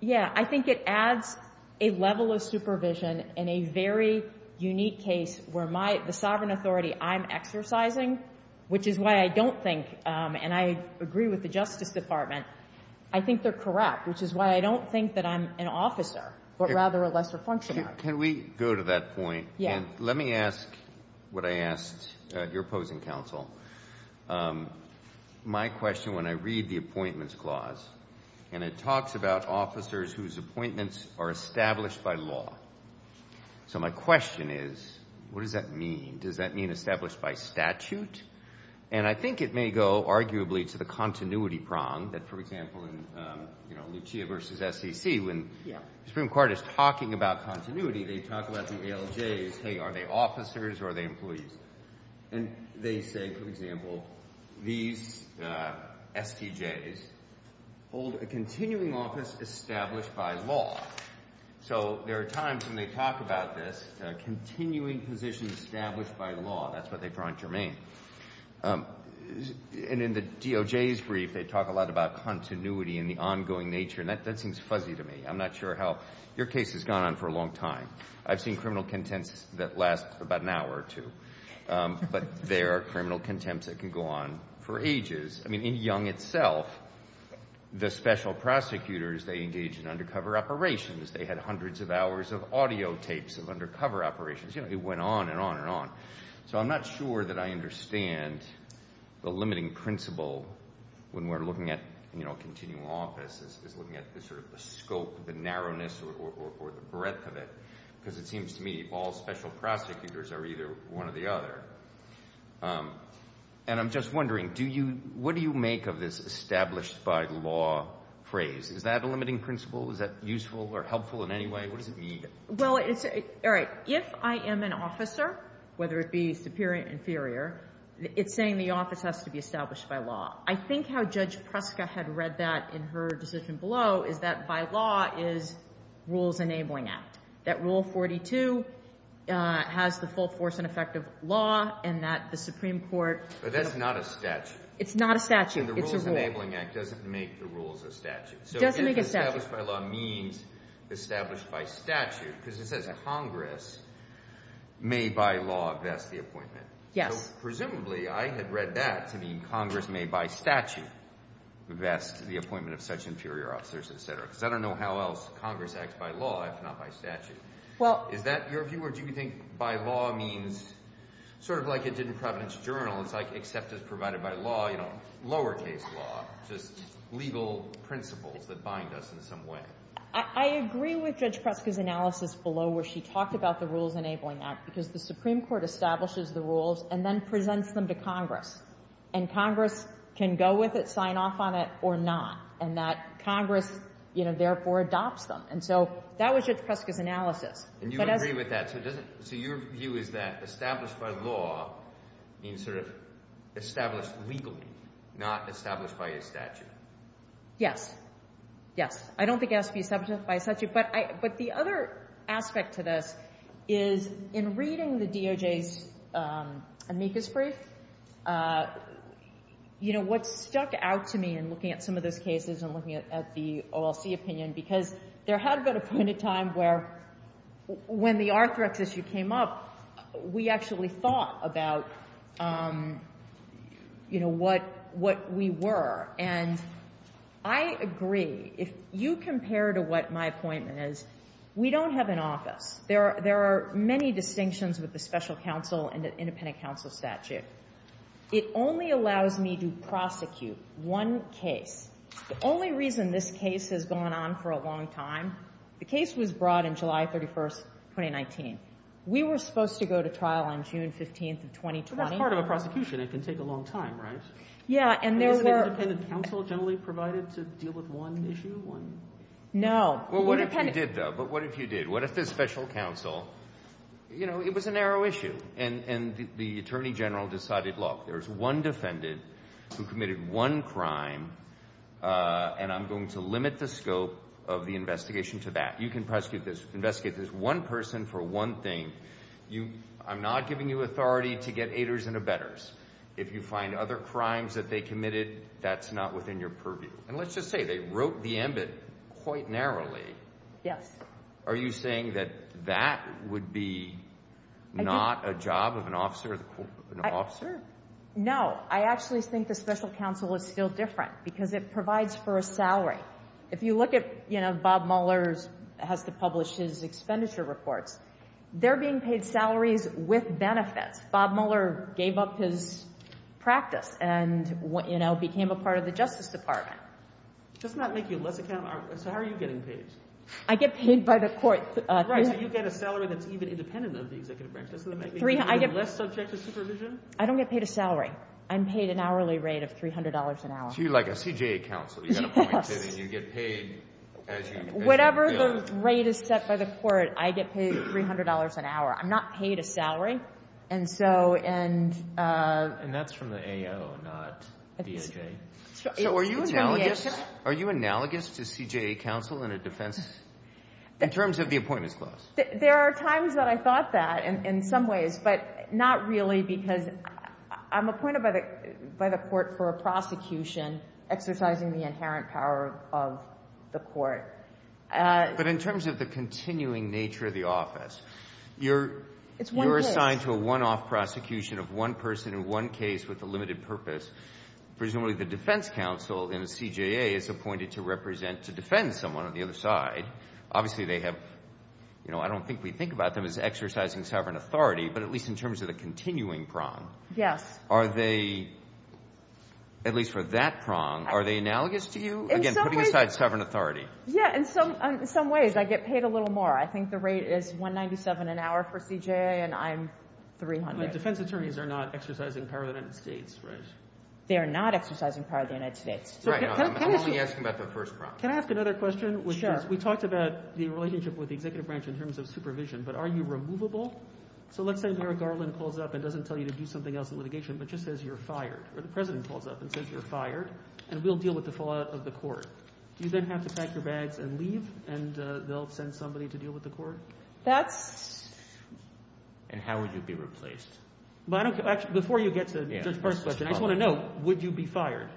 Yeah, I think it adds a level of supervision in a very unique case where the sovereign authority I'm exercising, which is why I don't think, and I agree with the Justice Department, I think they're corrupt, which is why I don't think that I'm an officer but rather a lesser functionary. Can we go to that point? Yeah. And let me ask what I asked your opposing counsel. My question, when I read the Appointments Clause, and it talks about officers whose appointments are established by law. So my question is, what does that mean? Does that mean established by statute? And I think it may go, arguably, to the continuity prong that, for example, in Lucia v. SEC, when the Supreme Court is talking about continuity, they talk about the ALJs. Are they officers or are they police? And they say, for example, these STJs hold a continuing office established by law. So there are times when they talk about this, continuing positions established by law. That's what they're trying to remain. And in the DOJ's brief, they talk a lot about continuity and the ongoing nature, and that seems fuzzy to me. I'm not sure how... Your case has gone on for a long time. I've seen criminal contempt that lasts about an hour or two. But there are criminal contempts that can go on for ages. I mean, in Young itself, the special prosecutors, they engaged in undercover operations. They had hundreds of hours of audio tapes of undercover operations. You know, it went on and on and on. So I'm not sure that I understand the limiting principle when we're looking at, you know, continuing office as looking at the scope, the narrowness, or the breadth of it. Because it seems to me all special prosecutors are either one or the other. And I'm just wondering, what do you make of this established by law phrase? Is that a limiting principle? Is that useful or helpful in any way? What does it mean? Well, all right. If I am an officer, whether it be superior or inferior, it's saying the office has to be established by law. I think how Judge Pruska had read that in her decision below is that by law is Rules Enabling Act. That Rule 42 has the full force and effect of law and that the Supreme Court... But that is not a statute. It's not a statute. It's a rule. And the Rules Enabling Act doesn't make the rules a statute. It doesn't make a statute. So it doesn't establish by law means established by statute. Because it says Congress may by law vest the appointment. Yeah. Presumably, I had read that to mean Congress may by statute vest the appointment of such inferior officers, et cetera. Because I don't know how else Congress acts by law if not by statute. Well... Do you think by law means sort of like it did in Providence Journal and it's like except it's provided by law, you know, lowercase law, just legal principles that bind us in some way? I agree with Judge Pruska's analysis below where she talked about the Rules Enabling Act because the Supreme Court establishes the rules and then presents them to Congress. And Congress can go with it, sign off on it or not. And that Congress, you know, therefore adopts them. And so that was Judge Pruska's analysis. Do you agree with that? So your view is that established by law means sort of established legally not established by a statute. Yes. Yes. I don't think it has to be established by a statute. But the other aspect to this is in reading the DOJ's amicus brief, you know, what stuck out to me in looking at some of those cases and looking at the OLC opinion because there had been a point in time where when the Arthrax issue came up, we actually thought about, you know, what we were. And I agree. If you compare to what my point is, we don't have an office. There are many distinctions with the special counsel and the independent counsel statute. It only allows me to prosecute one case. The only reason this case has gone on for a long time, the case was brought in July 31st, 2019. We were supposed to go to trial on June 15th of 2020. But that's part of a prosecution. It can take a long time, right? Yeah, and there were... Was the independent counsel generally provided to deal with one issue? No. Well, what if you did, though? But what if you did? What if it's special counsel? You know, it was a narrow issue. And the attorney general decided, look, there's one defendant who committed one crime, and I'm going to limit the scope of the investigation to that. You can prosecute this, investigate this one person for one thing. I'm not giving you authority to get haters and abettors. If you find other crimes that they committed, that's not within your purview. And let's just say they broke the ambit quite narrowly. Yes. Are you saying that that would be not a job of an officer? No. I actually think that special counsel is still different because it provides for a salary. If you look at, you know, Bob Mueller has to publish his expenditure report, they're being paid salaries with benefits. Bob Mueller gave up his practice and, you know, became a part of the Justice Department. Does it not make you look So how are you getting paid? I get paid by the court. You get a salary that's even independent of the executive practice. Do you have less subject to supervision? I don't get paid a salary. I'm paid an hourly rate of $300 an hour. So you're like a CJA counsel. You get appointed and you get paid as you go. Whatever the rate is set by the court, I get paid $300 an hour. I'm not paid a salary. And so, and... And that's from the AO, not the EAJ. So are you analogous to CJA counsel in a defense... in terms of the appointment clause? There are times that I thought that in some ways, but not really because I'm appointed by the court for a prosecution exercising the inherent power of the court. But in terms of the continuing nature of the office, you're assigned to a one-off prosecution of one person in one case with a limited purpose. Presumably the defense counsel in a CJA is appointed to represent to defend someone on the other side. Obviously they have... You know, I don't think we think about them as exercising sovereign authority, but at least in terms of the continuing prong. Yes. Are they, at least for that prong, are they analogous to you? Again, putting aside sovereign authority. Yeah, in some ways I get paid a little more. I think the rate is $197 an hour for CJA and I'm $300. But defense attorneys are not exercising power of the United States, right? They are not exercising power of the United States. Right. I'm only asking about the first prong. Can I ask another question? Yes. We talked about the relationship with the executive branch in terms of supervision, but are you removable? So let's say Merrick Garland calls up and doesn't tell you to do something else in litigation, but just says you're fired. Or the president calls up and says you're fired and we'll deal with the fallout of the court. Do you then have to pack your bags and leave and they'll send somebody to deal with the court? That's... And how would you be replaced? Before you get to the first question, I just want to know, would you be fired?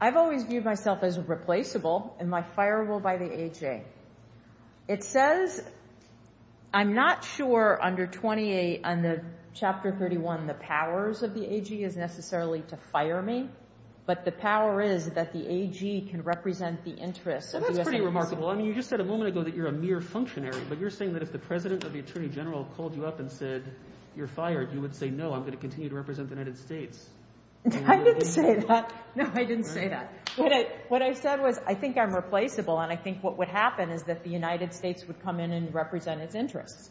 I've always viewed myself as a replaceable and my fire will by the AG. It says, I'm not sure under 28 under Chapter 31 the powers of the AG is necessarily to fire me, but the power is that the AG can represent the interest of the United States. That's pretty remarkable. I mean, you just said a moment ago that you're a mere functionary, but you're saying that if the president or the attorney general called you up and said, you're fired, you would say, no, I'm going to continue to represent the United States. I didn't say that. No, I didn't say that. What I said was, I think I'm replaceable and I think what would happen is that the United States would come in and represent his interest.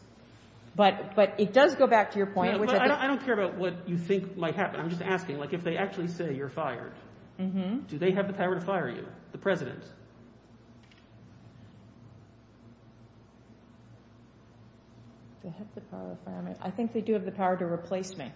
But it does go back to your point. I don't care about what you think might happen. I'm just asking. If they actually say you're fired, do they have the power to fire you, the president? I think they do have the power to replace me.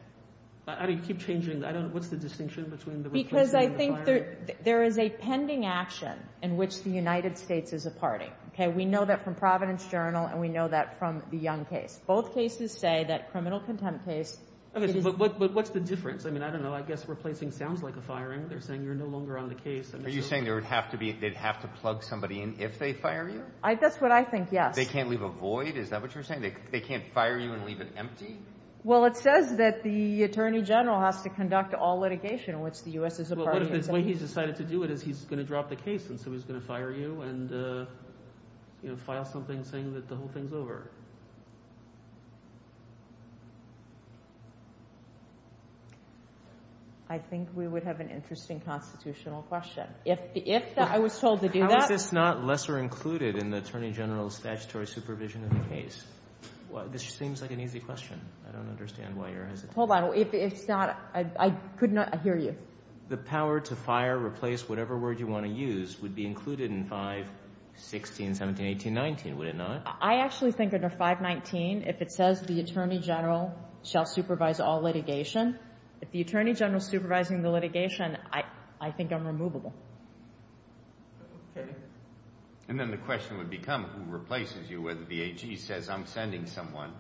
I mean, keep changing. I don't know. What's the distinction between the replacement and the firing? Because I think there is a pending action in which the United States is a party. Okay? We know that from Providence Journal and we know that from the Young case. Both cases say that criminal contempt case is... Okay, but what's the difference? I mean, I don't know. I guess replacing sounds like a firing. They're saying you're no longer on the case. Are you saying that they'd have to plug somebody in if they fire you? That's what I think, yes. They can't leave a void? Is that what you're saying? They can't fire you and leave it empty? it says that the Attorney General has to conduct all litigation in which the U.S. is a party. Well, what if the way he's decided to do it is he's going to drop the case and so he's going to fire you and file something saying that the whole thing's over? I think we would have an interesting constitutional question. If I was told to do that... How is this not lesser included in the Attorney General's statutory supervision of the case? Well, this seems like an easy question. I don't understand why you're hesitating. Hold on. If it's not... I could not... I hear you. The power to fire, replace, whatever word you want to use would be included in 5-16-17-18-19, would it not? I actually think under 5-19 if it says the Attorney General shall supervise all litigation, if the Attorney General is supervising the litigation, I think I'm removable. And then the question would become who replaces you when the BAG says I'm sending someone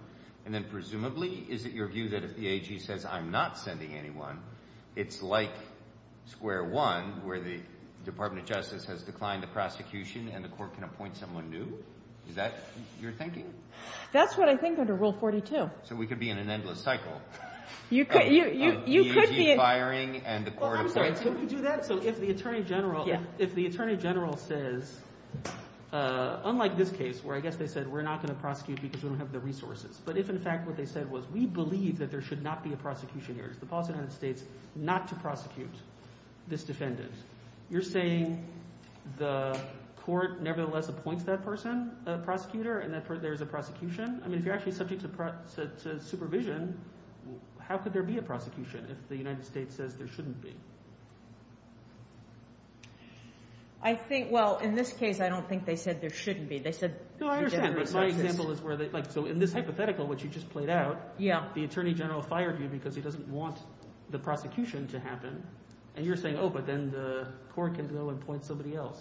and then presumably is it your view that if the BAG says I'm not sending anyone, it's like square one where the Department of Justice has declined the prosecution and the court can appoint someone new? Is that your thinking? That's what I think under Rule 42. So we could be in an endless cycle. You could be... If the Attorney General says unlike this case where I guess they said we're not going to prosecute because we don't have the resources, but if in fact what they said was we believe that there should not be a prosecution here, if the BAG states not to prosecute this defendant, you're saying the court nevertheless appoints that person a prosecutor and that's where there's a prosecution? If you're actually subject to supervision, how could there be a prosecution if the United States says there shouldn't be? I think, well, in this case I don't think they said there shouldn't be. They said... No, I understand, but my example is where they... So in this hypothetical which you just played out, the Attorney General fired you because he doesn't want the prosecution to happen and you're saying oh, but then the court can now appoint somebody else.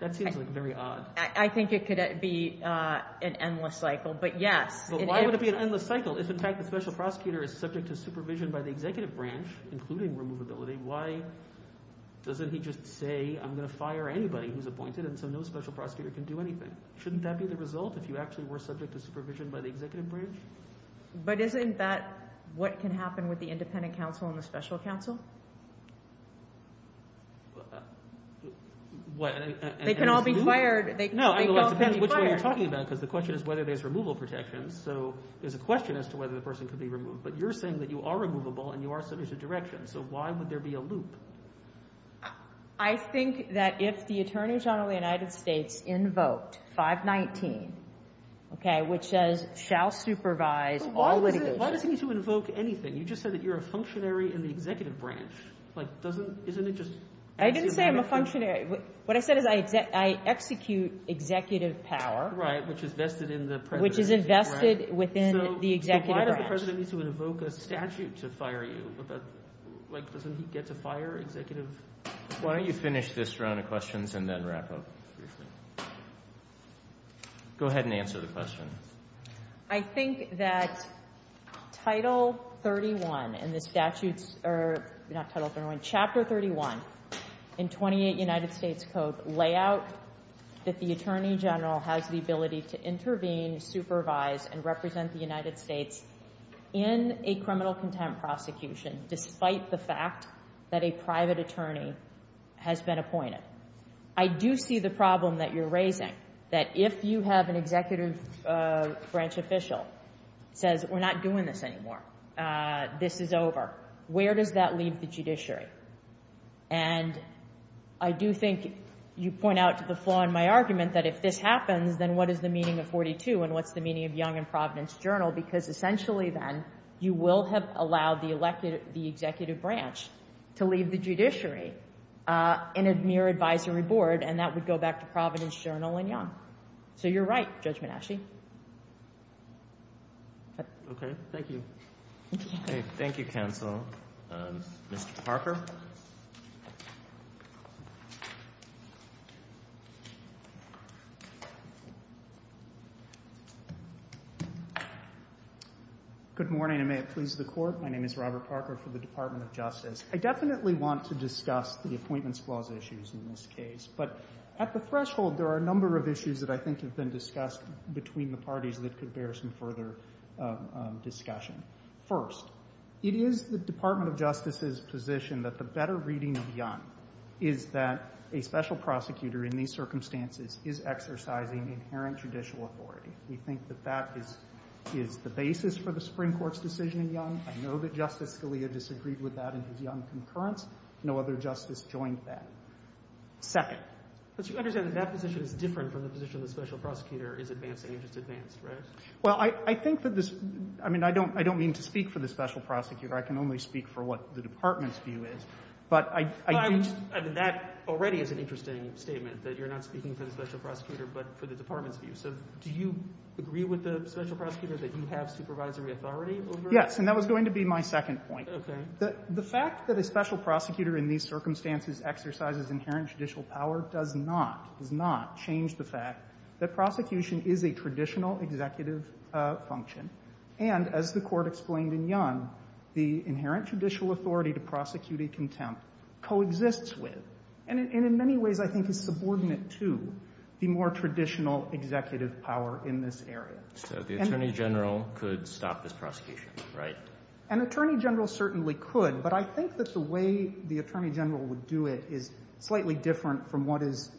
That seems like very odd. I think it could be an endless cycle, but yeah. But why would it be an endless cycle if in fact the special prosecutor is subject to supervision by the executive branch including removability, why doesn't he just say I'm going to fire anybody who's appointed and so no special prosecutor can do anything? Shouldn't that be the result if you actually were subject to supervision by the executive branch? But isn't that what can happen with the independent counsel and the special counsel? What? They can all be fired. No, I mean, depending on which way you're talking about because the question is whether there's removal, removal protection, so there's a question as to whether the person could be removed, but you're saying that you are removable and you are subject to direction, so why would there be a loop? I think that if the Attorney General of the United States invoked 519, okay, which says shall supervise all... Why would you invoke anything? You just said that you're a functionary in the executive branch. Isn't it just... I didn't say I'm a functionary. What I said is I execute executive power... Right, which is invested within the executive branch. So why does the President need to invoke a statute to fire you? Doesn't he get to fire executives? Why don't you finish this round of questions and then wrap up? Go ahead and answer the question. I think that Title 31 not Title 31, Chapter 31 in 28 United States Code lay out that the Attorney General has the ability to intervene, supervise, and execute all of the executive branches that supervise and represent the United States in a criminal contempt prosecution despite the fact that a private attorney has been appointed. I do see the problem that you're raising that if you have an executive branch official that says we're not doing this anymore. This is over. Where does that lead the judiciary? And I do think you point out to the flaw in my argument that if this happens then what is the meaning of 42 and what's the meaning of Young and Providence Journal because essentially then you will have allowed the executive branch to leave the judiciary in a mere advisory board and that would go back to Providence Journal and Young. So you're right Judge Manasci. Okay. Thank you. Okay. Thank you counsel. Mr. Parker. Good morning and may it please the court. My name is Robert Parker for the Department of Justice. I definitely want to discuss the appointment clause issues in this case but at the threshold there are a number of issues that I think between the parties that could bear some further discussion. First, it is the Department of Justice's position that the better reading of Young is that a special prosecutor is not the basis for the Supreme Court's decision in Young. I know that Justice Scalia disagreed with that in his Young concurrence. No other justice joined that. Second. But you understand that that position is different from the position of the special prosecutor is advance interest advance. I don't mean to speak for the special prosecutor. I can only speak for what the Department's view is. That already is an interesting statement. Do you agree with the special prosecutor that you have supervisory authority? That was going to be my second point. The fact that a special prosecutor has the authority to prosecute a contempt is subordinate to the more traditional executive power. The Attorney General could stop this prosecution. I think the way the Attorney General would do it is different from what has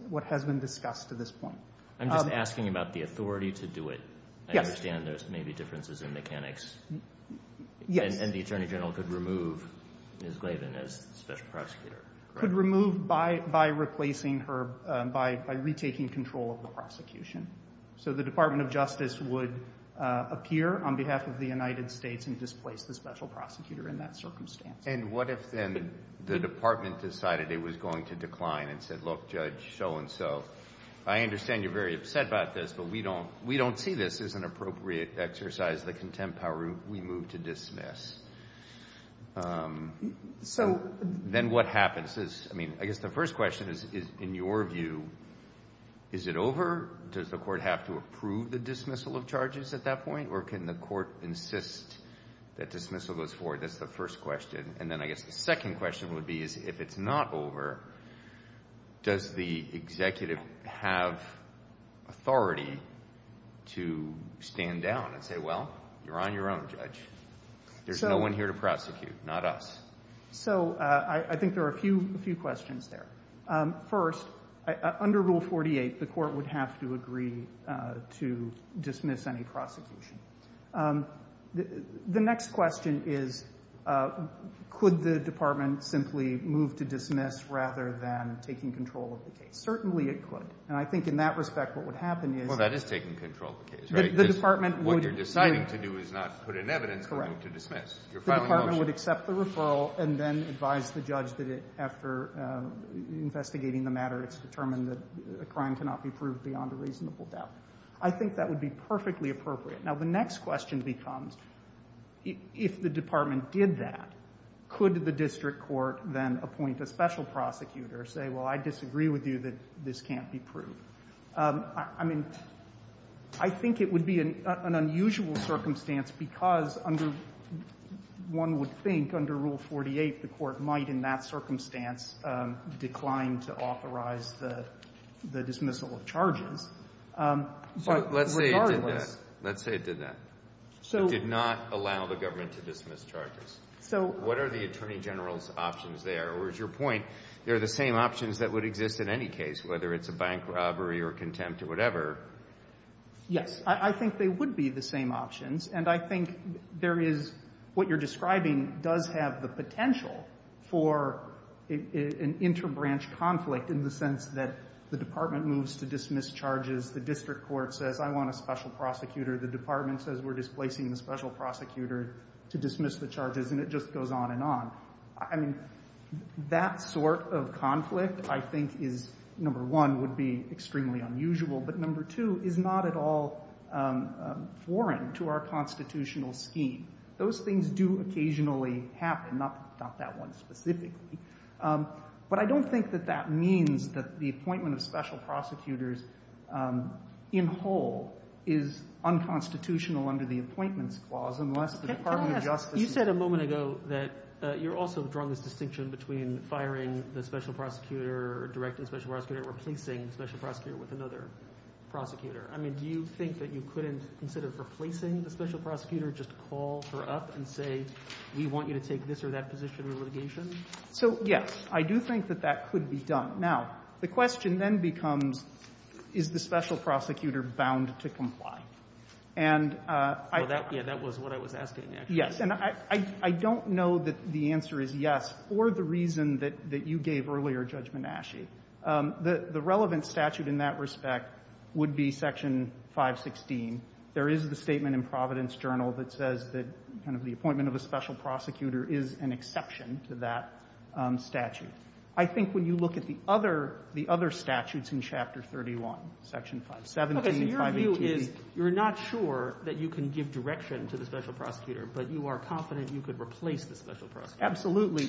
been discussed to this point. I'm asking about the authority to do it. I understand there are differences in mechanics. The Attorney General could remove her by retaking control of the prosecution. The Department of Justice would appear on behalf of the United States. And what if the Department decided it was going to decline and said judge, so and so, I understand you're upset about this but we don't see this as an issue. Can the court insist that dismissal goes forward? The second question is if it's not over, does the executive have authority to stand down and say, well, you're on your own judge. There's no one here to dismiss any prosecution. The next question is could the Department simply move to dismiss rather than taking control of the case? Certainly it could. I think in that respect what would happen is the Department would accept the referral and then advise the judge to dismiss the case. I think that would be perfectly appropriate. The next question is if the Department did that, could the district court appoint a special prosecutor and say I disagree with you. I think it would be an unusual circumstance because under one would think under rule 48 the court might in that circumstance decline to authorize the dismissal of charges. Let's say it did that. It did not allow the government to dismiss charges. What are the Attorney General's options there? Or is your point they're the same options that would exist in any case whether it's a special or a special prosecutor. I think there is what you're describing does have the potential for an interbranch conflict in the sense that the Department moves to dismiss charges. The district court says I want a special prosecutor. The Department says we're displacing the special prosecutor. a very unconstitutional scheme. Those things do occasionally happen. But I don't think that means that the appointment of special prosecutors in whole is unconstitutional under the appointment clause. You said a moment ago you're also drawing the distinction between firing the special prosecutor. the special prosecutor just call her up and say we want you to take this or that position? I do think that could be done. The question then becomes is the special prosecutor bound to comply? I don't know that the answer is yes or the answer is I don't think that the appointment of the special prosecutor is an exception to that statute. I think when you look at the other statutes in chapter 31, you're not sure that you can give direction to the special prosecutor but you are confident you can replace the special prosecutor attorney general. I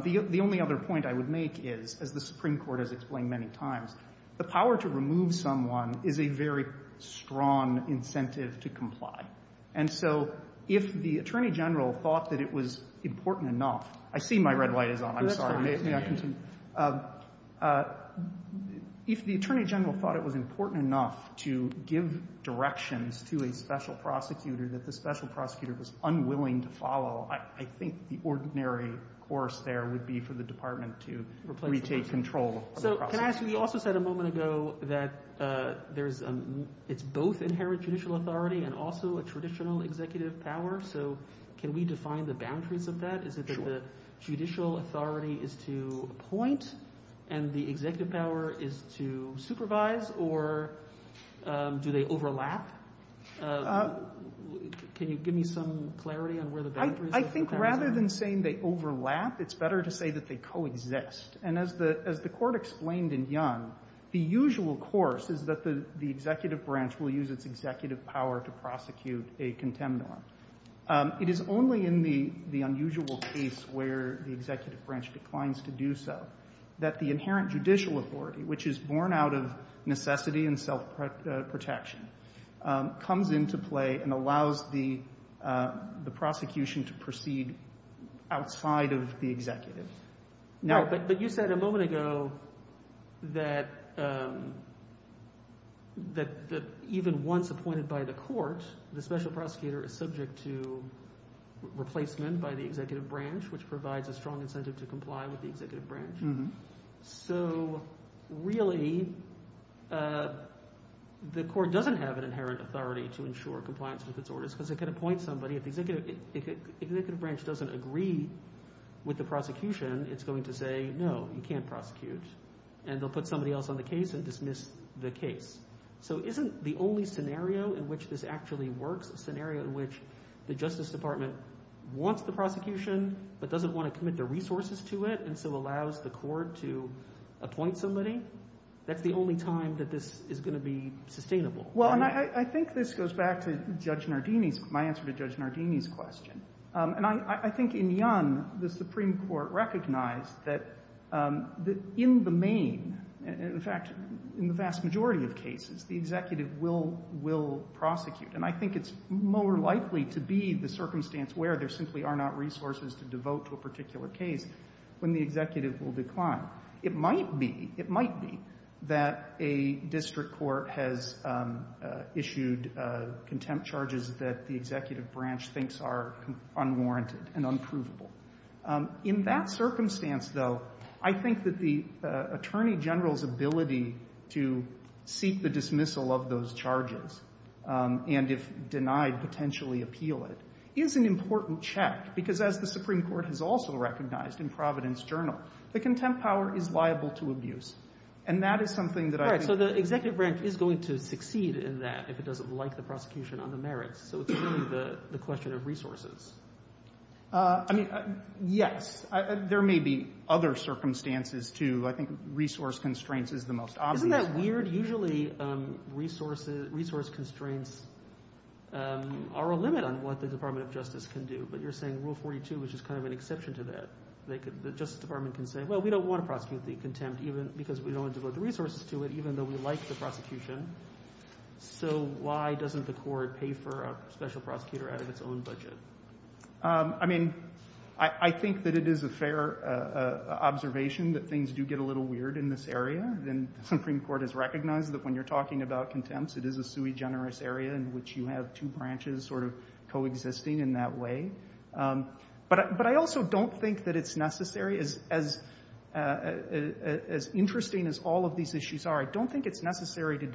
think the only other point I would make is the power to remove someone is a very strong incentive to comply. If the attorney general thought it was important enough to give directions to a special prosecutor that was unwilling to follow, I think the ordinary course there would be for the department to take control. Can we define the boundaries of that? Is it that the judicial authority is to appoint and the executive power is to supervise or do they overlap? Can you give me some clarity? I think rather than saying they overlap, it's better to say they coexist. As the court explained, the usual course is that the executive branch will use the executive power to prosecute a contempt norm. It is only in the unusual case where the executive branch declines to do so that the judicial authority comes into play and allows the prosecution to proceed outside of the executive. You said a moment ago that even once appointed by the court, the special prosecutor is subject to replacement by the executive branch which provides a strong incentive to comply with the executive branch. Really, the court doesn't have an inherent authority to ensure compliance with its orders. If the executive branch doesn't agree with the prosecution and doesn't want to commit their resources to it and allows the court to appoint somebody, that's the only time this is going to be sustainable. I think this goes back to my answer to the question. I think in Yonge, the Supreme Court recognized that in the main, in the vast majority of cases, the executive will prosecute. I think it's more likely to be the circumstance where there are not resources to devote to a particular case when the executive will decline. It might be that a district court has issued contempt charges that the executive branch thinks are unwarranted and unprovable. In that circumstance, though, I think the attorney general's ability to seek the dismissal of those charges is an important check. As the Supreme Court recognized, the contempt power is liable to abuse. The executive branch is going to succeed in that if it doesn't like the prosecution on the merits. It's the question of resources. There may be other circumstances too. Resource constraints are a limit on what the Department of Justice can do. Rule 42 is an exception to that. The Justice Department can say we don't want to prosecute contempt even though we like the prosecution. So why doesn't the court pay for a special prosecutor out of its own budget? I think it's a fair observation that things get weird in this area. The Supreme Court has recognized that when you're talking about contempt it is a sui generous area. But I also don't think that it's necessary as interesting as all of these issues are. I don't think it's necessary to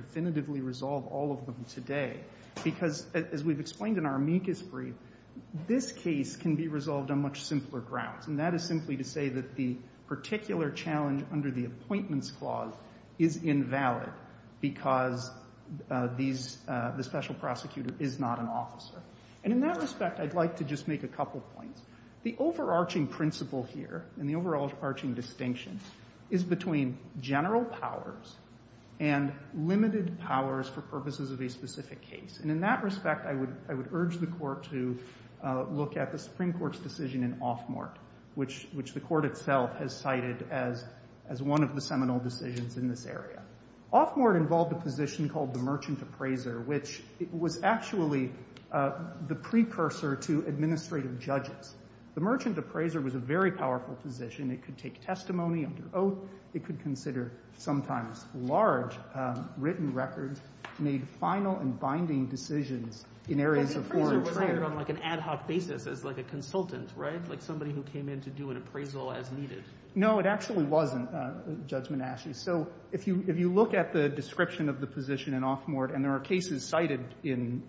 resolve all of them today. This case can be resolved on much simpler grounds. The particular challenge under the appointment clause is invalid because the special prosecutor is not an officer. In that respect I would like to make a couple points. The overarching distinction is between general powers and special powers. The Supreme Court has cited this as one of the decisions in this area. It was the precursor to administrative judges. It was a very powerful position. It could consider sometimes large written records and make final and binding decisions. It actually wasn't. If you look at the description of the position and there are cases cited in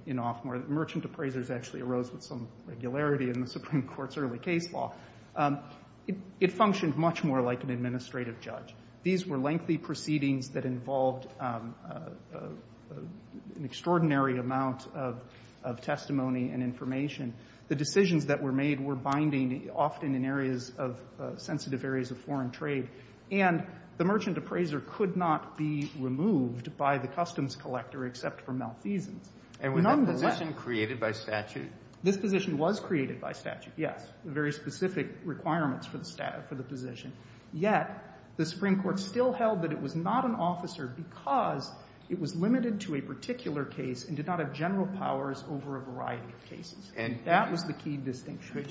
it, it functioned much more like an administrative judge. These were lengthy proceedings that required an extraordinary amount of testimony and information. The decisions that were made were binding often in sensitive areas of foreign trade. The merchant appraiser could not be removed by the customs collector except for Malthusian. This position was created by statute. The Supreme Court still held that it was not an officer because it was limited to a particular case and did not have general That was the key distinction.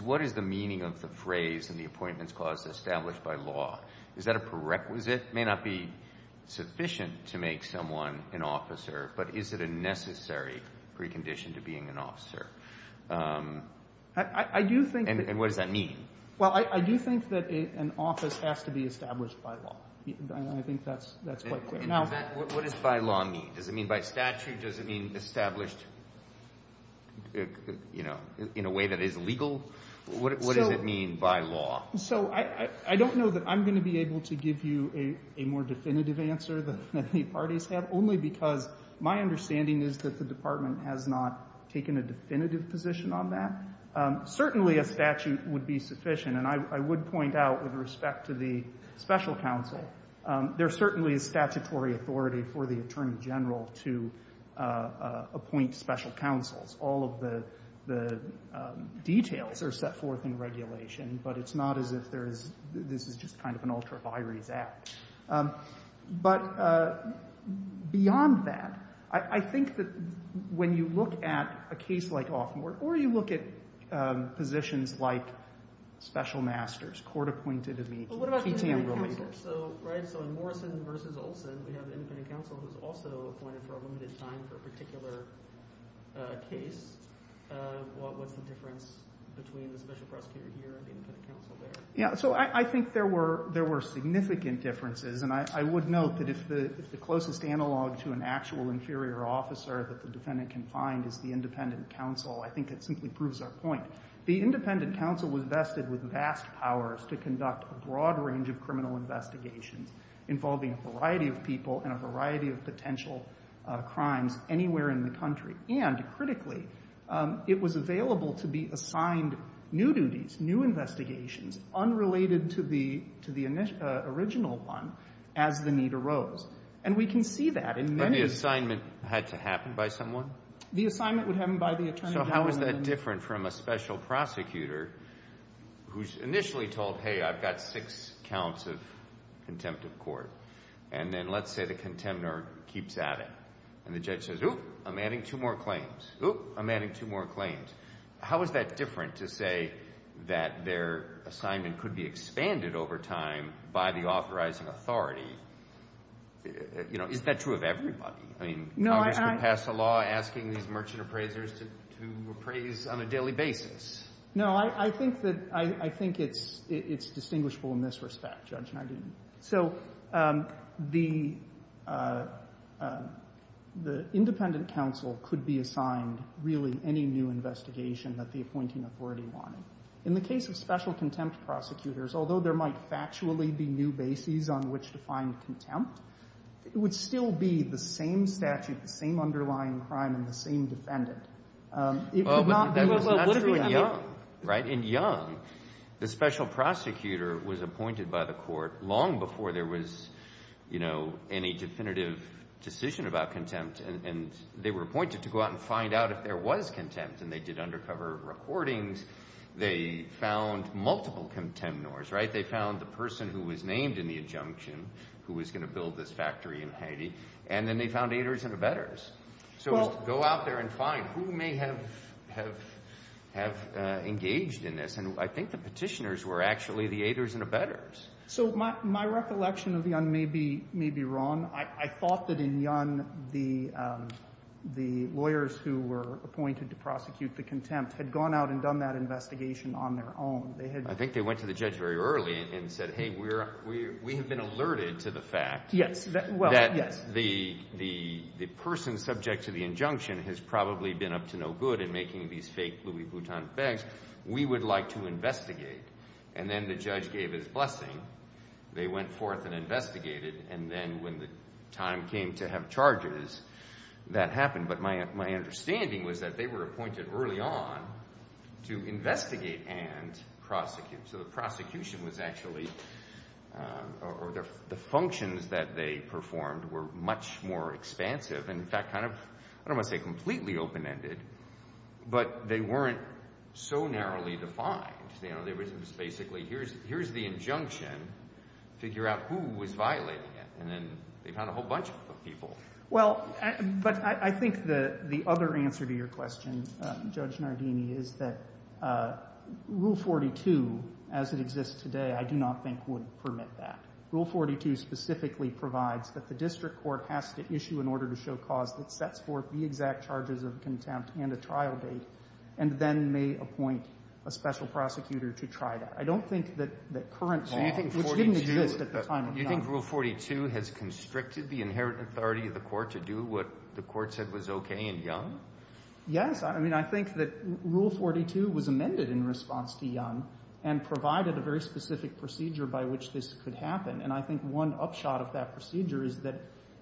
What is the meaning of the phrase established by law? It may not be sufficient to make someone an officer but is it a necessary precondition to being an officer? And what does that mean? I do think that an office has to be established by law. What does by law mean? By statute does it mean established in a way that is legal? What does it mean by law? I don't know that I can give you a more definitive answer than many parties have only because my understanding is that the department has not taken a definitive position on that. Certainly a statute would be sufficient. I would point out with respect to the special counsel there is certainly a statutory authority for the attorney for the special counsel. I think when you look at a case like law court or you look at positions masters, court appointees. We have infinite counsel who is also appointed for a particular case. What is the difference between the special counsel attorney for the special counsel? There were significant differences. It is the closest analog to an actual interior officer. The independent counsel was vested with vast powers to conduct a broad range of criminal investigations involving a variety of people and potential crimes anywhere in the country. And critically, it was available to be assigned new duties, new investigations unrelated to the original one as the need arose. The assignment would happen by the attorney. How is that different from a special prosecutor who is saying, oh, I'm adding two more claims. How is that different to say that their assignment could be expanded over time by the authorizing authority? Is that true of everybody? Congress would pass a law asking merchant appraisers to appraise on a daily basis. I think it's distinguishable in this respect. So, the independent counsel could be assigned really any new investigation that the appointing authority wanted. In the case of special contempt prosecutors, although there might be new bases on which to find contempt, it would still be the same statute, the same underlying crime, and the same defendant. In Young, the special prosecutor was appointed by the court long before there was any definitive decision about contempt. They were appointed to go out and find out if there was contempt. They found multiple contempt lawyers. They found the person who was named in the injunction who was going to build this factory in Haiti. So, go out there and find who may have engaged in this. I think the petitioners were actually the aiders and not the judges. I think they went to the judge very early and said, hey, we have been alerted to the fact that person subject to the injunction has probably been up to no good in making these fake Louis Vuitton bags. We would like to investigate. And then the judge gave his blessing. They went forth and investigated. And then when the time came to have charges, that happened. But my understanding was that they were appointed early on to investigate and prosecute. So, the functions that they performed were much more expansive. I don't know if they completely open-ended, but they weren't so narrowly defined. Here's the injunction. Figure out who was violating it. And then they found a whole bunch of people. But I think the other answer to your question, Judge Nardini, is that rule 42 as it exists today, I do not think would permit that. Rule 42 specifically provides that the district court has to issue in order to show cause and then may appoint a special prosecutor to try that. I don't think that current statute is good at the time. I think that rule 42 has constricted the court to do what the court said was okay. I think that rule 42 was amended in response to young and provided a specific procedure by which this could happen.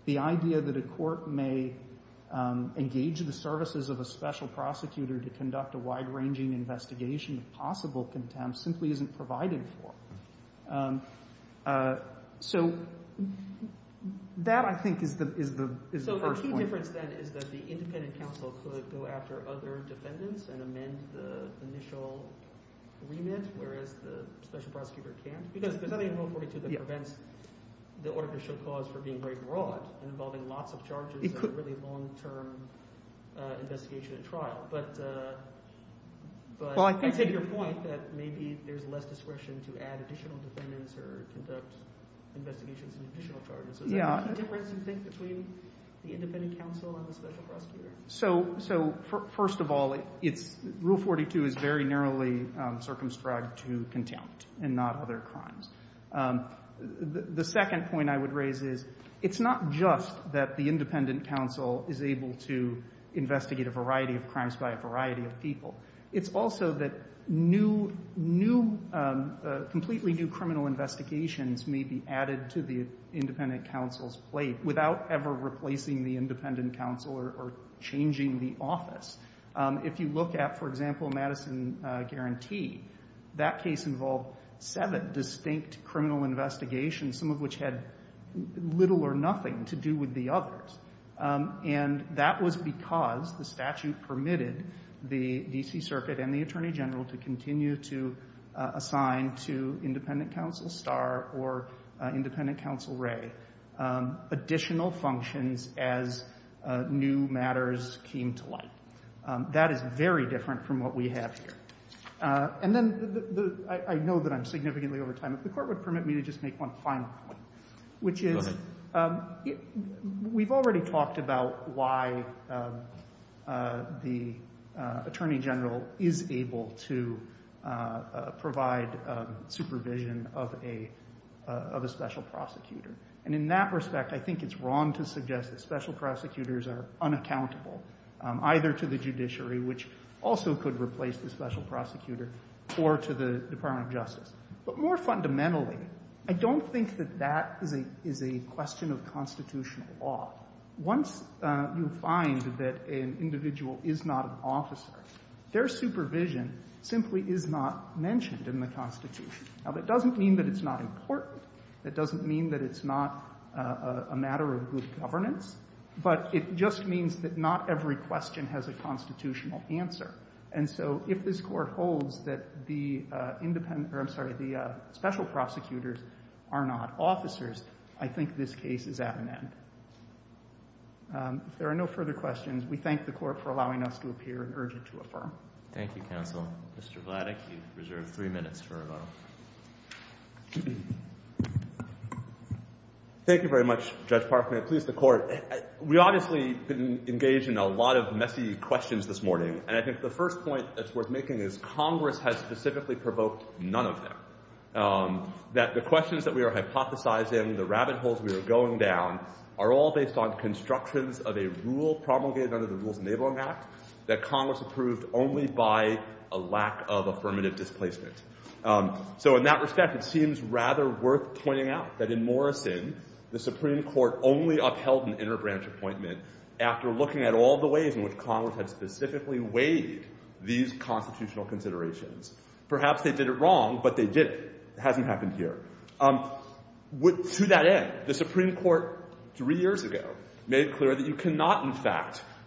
The idea that a court may engage in the services of a special prosecutor is wrong. That is the first point. The independent counsel can amend the initial remit whereas the special prosecutor can't. It prevents the order to show cause for being very broad involving lots of charges and long term investigation and trial. But maybe there is less discretion to add additional defendants or additional charges. Is there a difference between the independent counsel and the special prosecutor? First of all, rule 42 is very narrowly circumscribed to contempt and not limited to a variety of crimes by a variety of people. It is also that completely new criminal investigations may be added to the independent counsel's plate without ever replacing the independent counsel or changing the office. If you look at, for example, Madison Guarantee, that case involved seven distinct criminal investigations, some of which had little or nothing to do with the others. And that was because the statute permitted the D.C. circuit and the attorney general to continue to assign to independent counsel star or independent counsel ray additional functions as new matters came to light. That is a very different from what we have here. I know I'm significantly over time. If the court would permit me to make one final point, which is we've already talked about why the attorney general is able to provide supervision of a special prosecutor. In that case, the special prosecutor also could replace the special prosecutor. More fundamentally, I don't think that that is a question of constitutional law. Once you find that an individual is not an officer, their supervision simply is not mentioned in the constitution. It doesn't mean it's not important. It doesn't mean it's not a matter of governance. It just means not every question has a constitutional answer. If this court holds that the special prosecutors are not officers, I think this case is at an end. If there are no further questions, we thank the court for allowing us to appear and urge it to affirm. counsel. Mr. Vladeck, you have three minutes. Thank you very much. We obviously engaged in a lot of messy questions this morning. I think the first point is Congress has specifically provoked none of them. The questions we are hypothesizing are all based on constructions of a rule promulgated that Congress approved only by a lack of affirmative displacement. In that respect, it seems rather worth pointing out that in Morrison, the Supreme Court only upheld an interbranch appointment after looking at all the ways in which Congress has specifically weighed these constitutional considerations. Perhaps they did it wrong, but they didn't. It hasn't happened here. To that end, the Supreme Court three years ago made clear that you cannot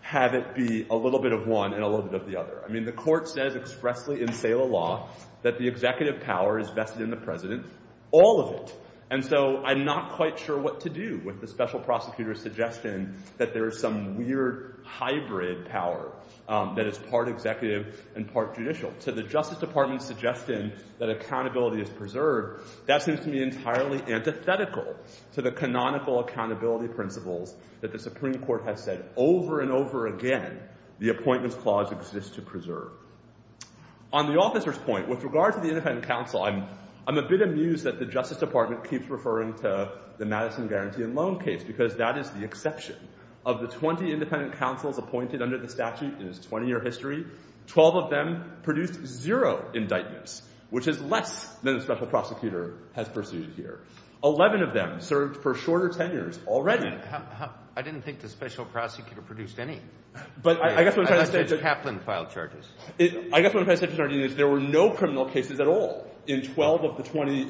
have it be a little bit of one and a little bit of the other. The court says that the executive power is vested in the president. All of it. I'm not sure what to do with the special prosecutor suggesting that there is some weird hybrid power that is part executive and part judicial. The Justice Department has said over and over again, the appointment clause exists to preserve. On the officer's point, with regard to the independent counsel, I'm amused that the Justice Department keeps referring to the Madison guarantee and loan case. That is the exception. Of the 20 independent counsel, 12 of them produced zero indictments. 11 of them served for shorter tenures already. I didn't think the special prosecutor produced any. There were no criminal cases at all. That was the exception.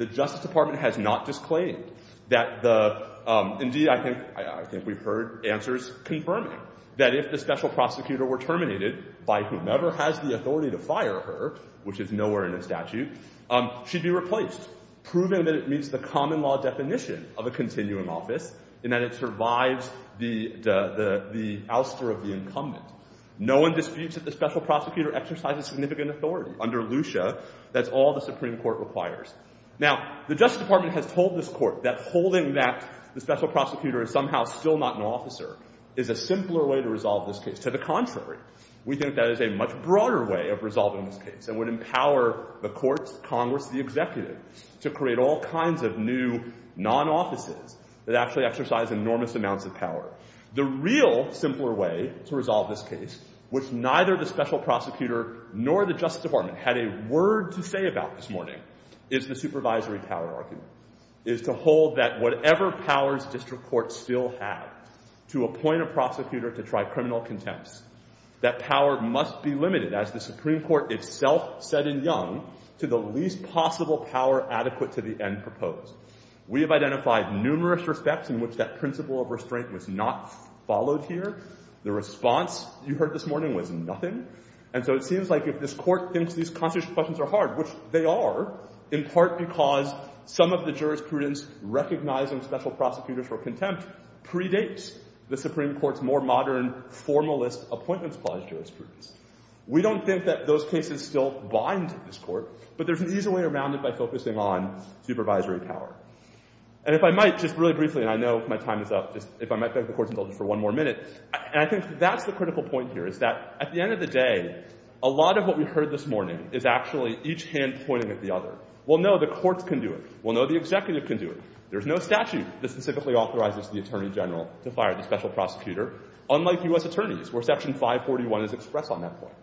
The Justice Department has not disclaimed that the indeed, I think we have heard answers confirming that if the special prosecutor were terminated by whomever has the authority to fire her, which is nowhere in the statute, she would be replaced. Proving that it meets the common law definition of a continuum office. No one disputes that the special prosecutor exercises significant authority. The Justice Department has told this court that holding that the special prosecutor is still not an officer is a simpler way to resolve this case. To the contrary, we think that is a much broader way of resolving this case that would empower the courts, Congress, the executive to create all kinds of new non-offices that actually exercise enormous amounts of power. The real simpler way to resolve this case, which neither the special prosecutor nor the Justice Department had a word to say about this morning is the supervisory power argument, is to hold that whatever powers district courts still have to appoint a prosecutor to try criminal contempt, that power must be not followed here. The response you heard this morning was nothing. And so it seems like if this court thinks these questions are hard, which they are, in part because some of the jurisprudence recognizing special prosecutor contempt predates the Supreme Court's more modern formalist appointment of special prosecutor. We don't think that those cases still bind to this court, but there's an easier way around it by focusing on supervisory power. And if I might, just really briefly, and I know my time is up, and I think that's the critical point here that the Supreme Court has expressed on that point.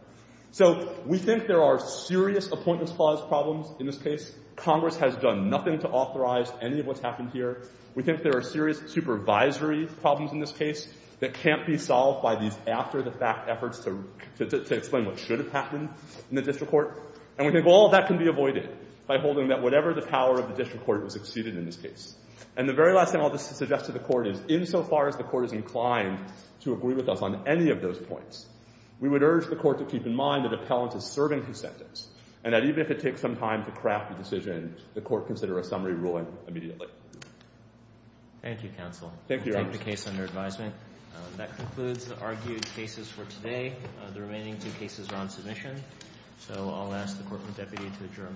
So we think there are serious appointment clause problems in this case. Congress has done nothing to authorize any of what's happened here. We think there are serious supervisory problems in this case that can't be solved by the Supreme Court. there are serious appointments that can be avoided by holding that whatever the power of the district court is exceeded in this case. And the very last thing I'll suggest to the court is insofar as the court is inclined to agree with us on any of those points, we would urge the court to keep in mind that the talent is serving consensus and that even if it takes some craft a decision, the court considers a summary ruling immediately. That concludes the argued cases for today. The remaining two cases are on the next hearing. Thank you.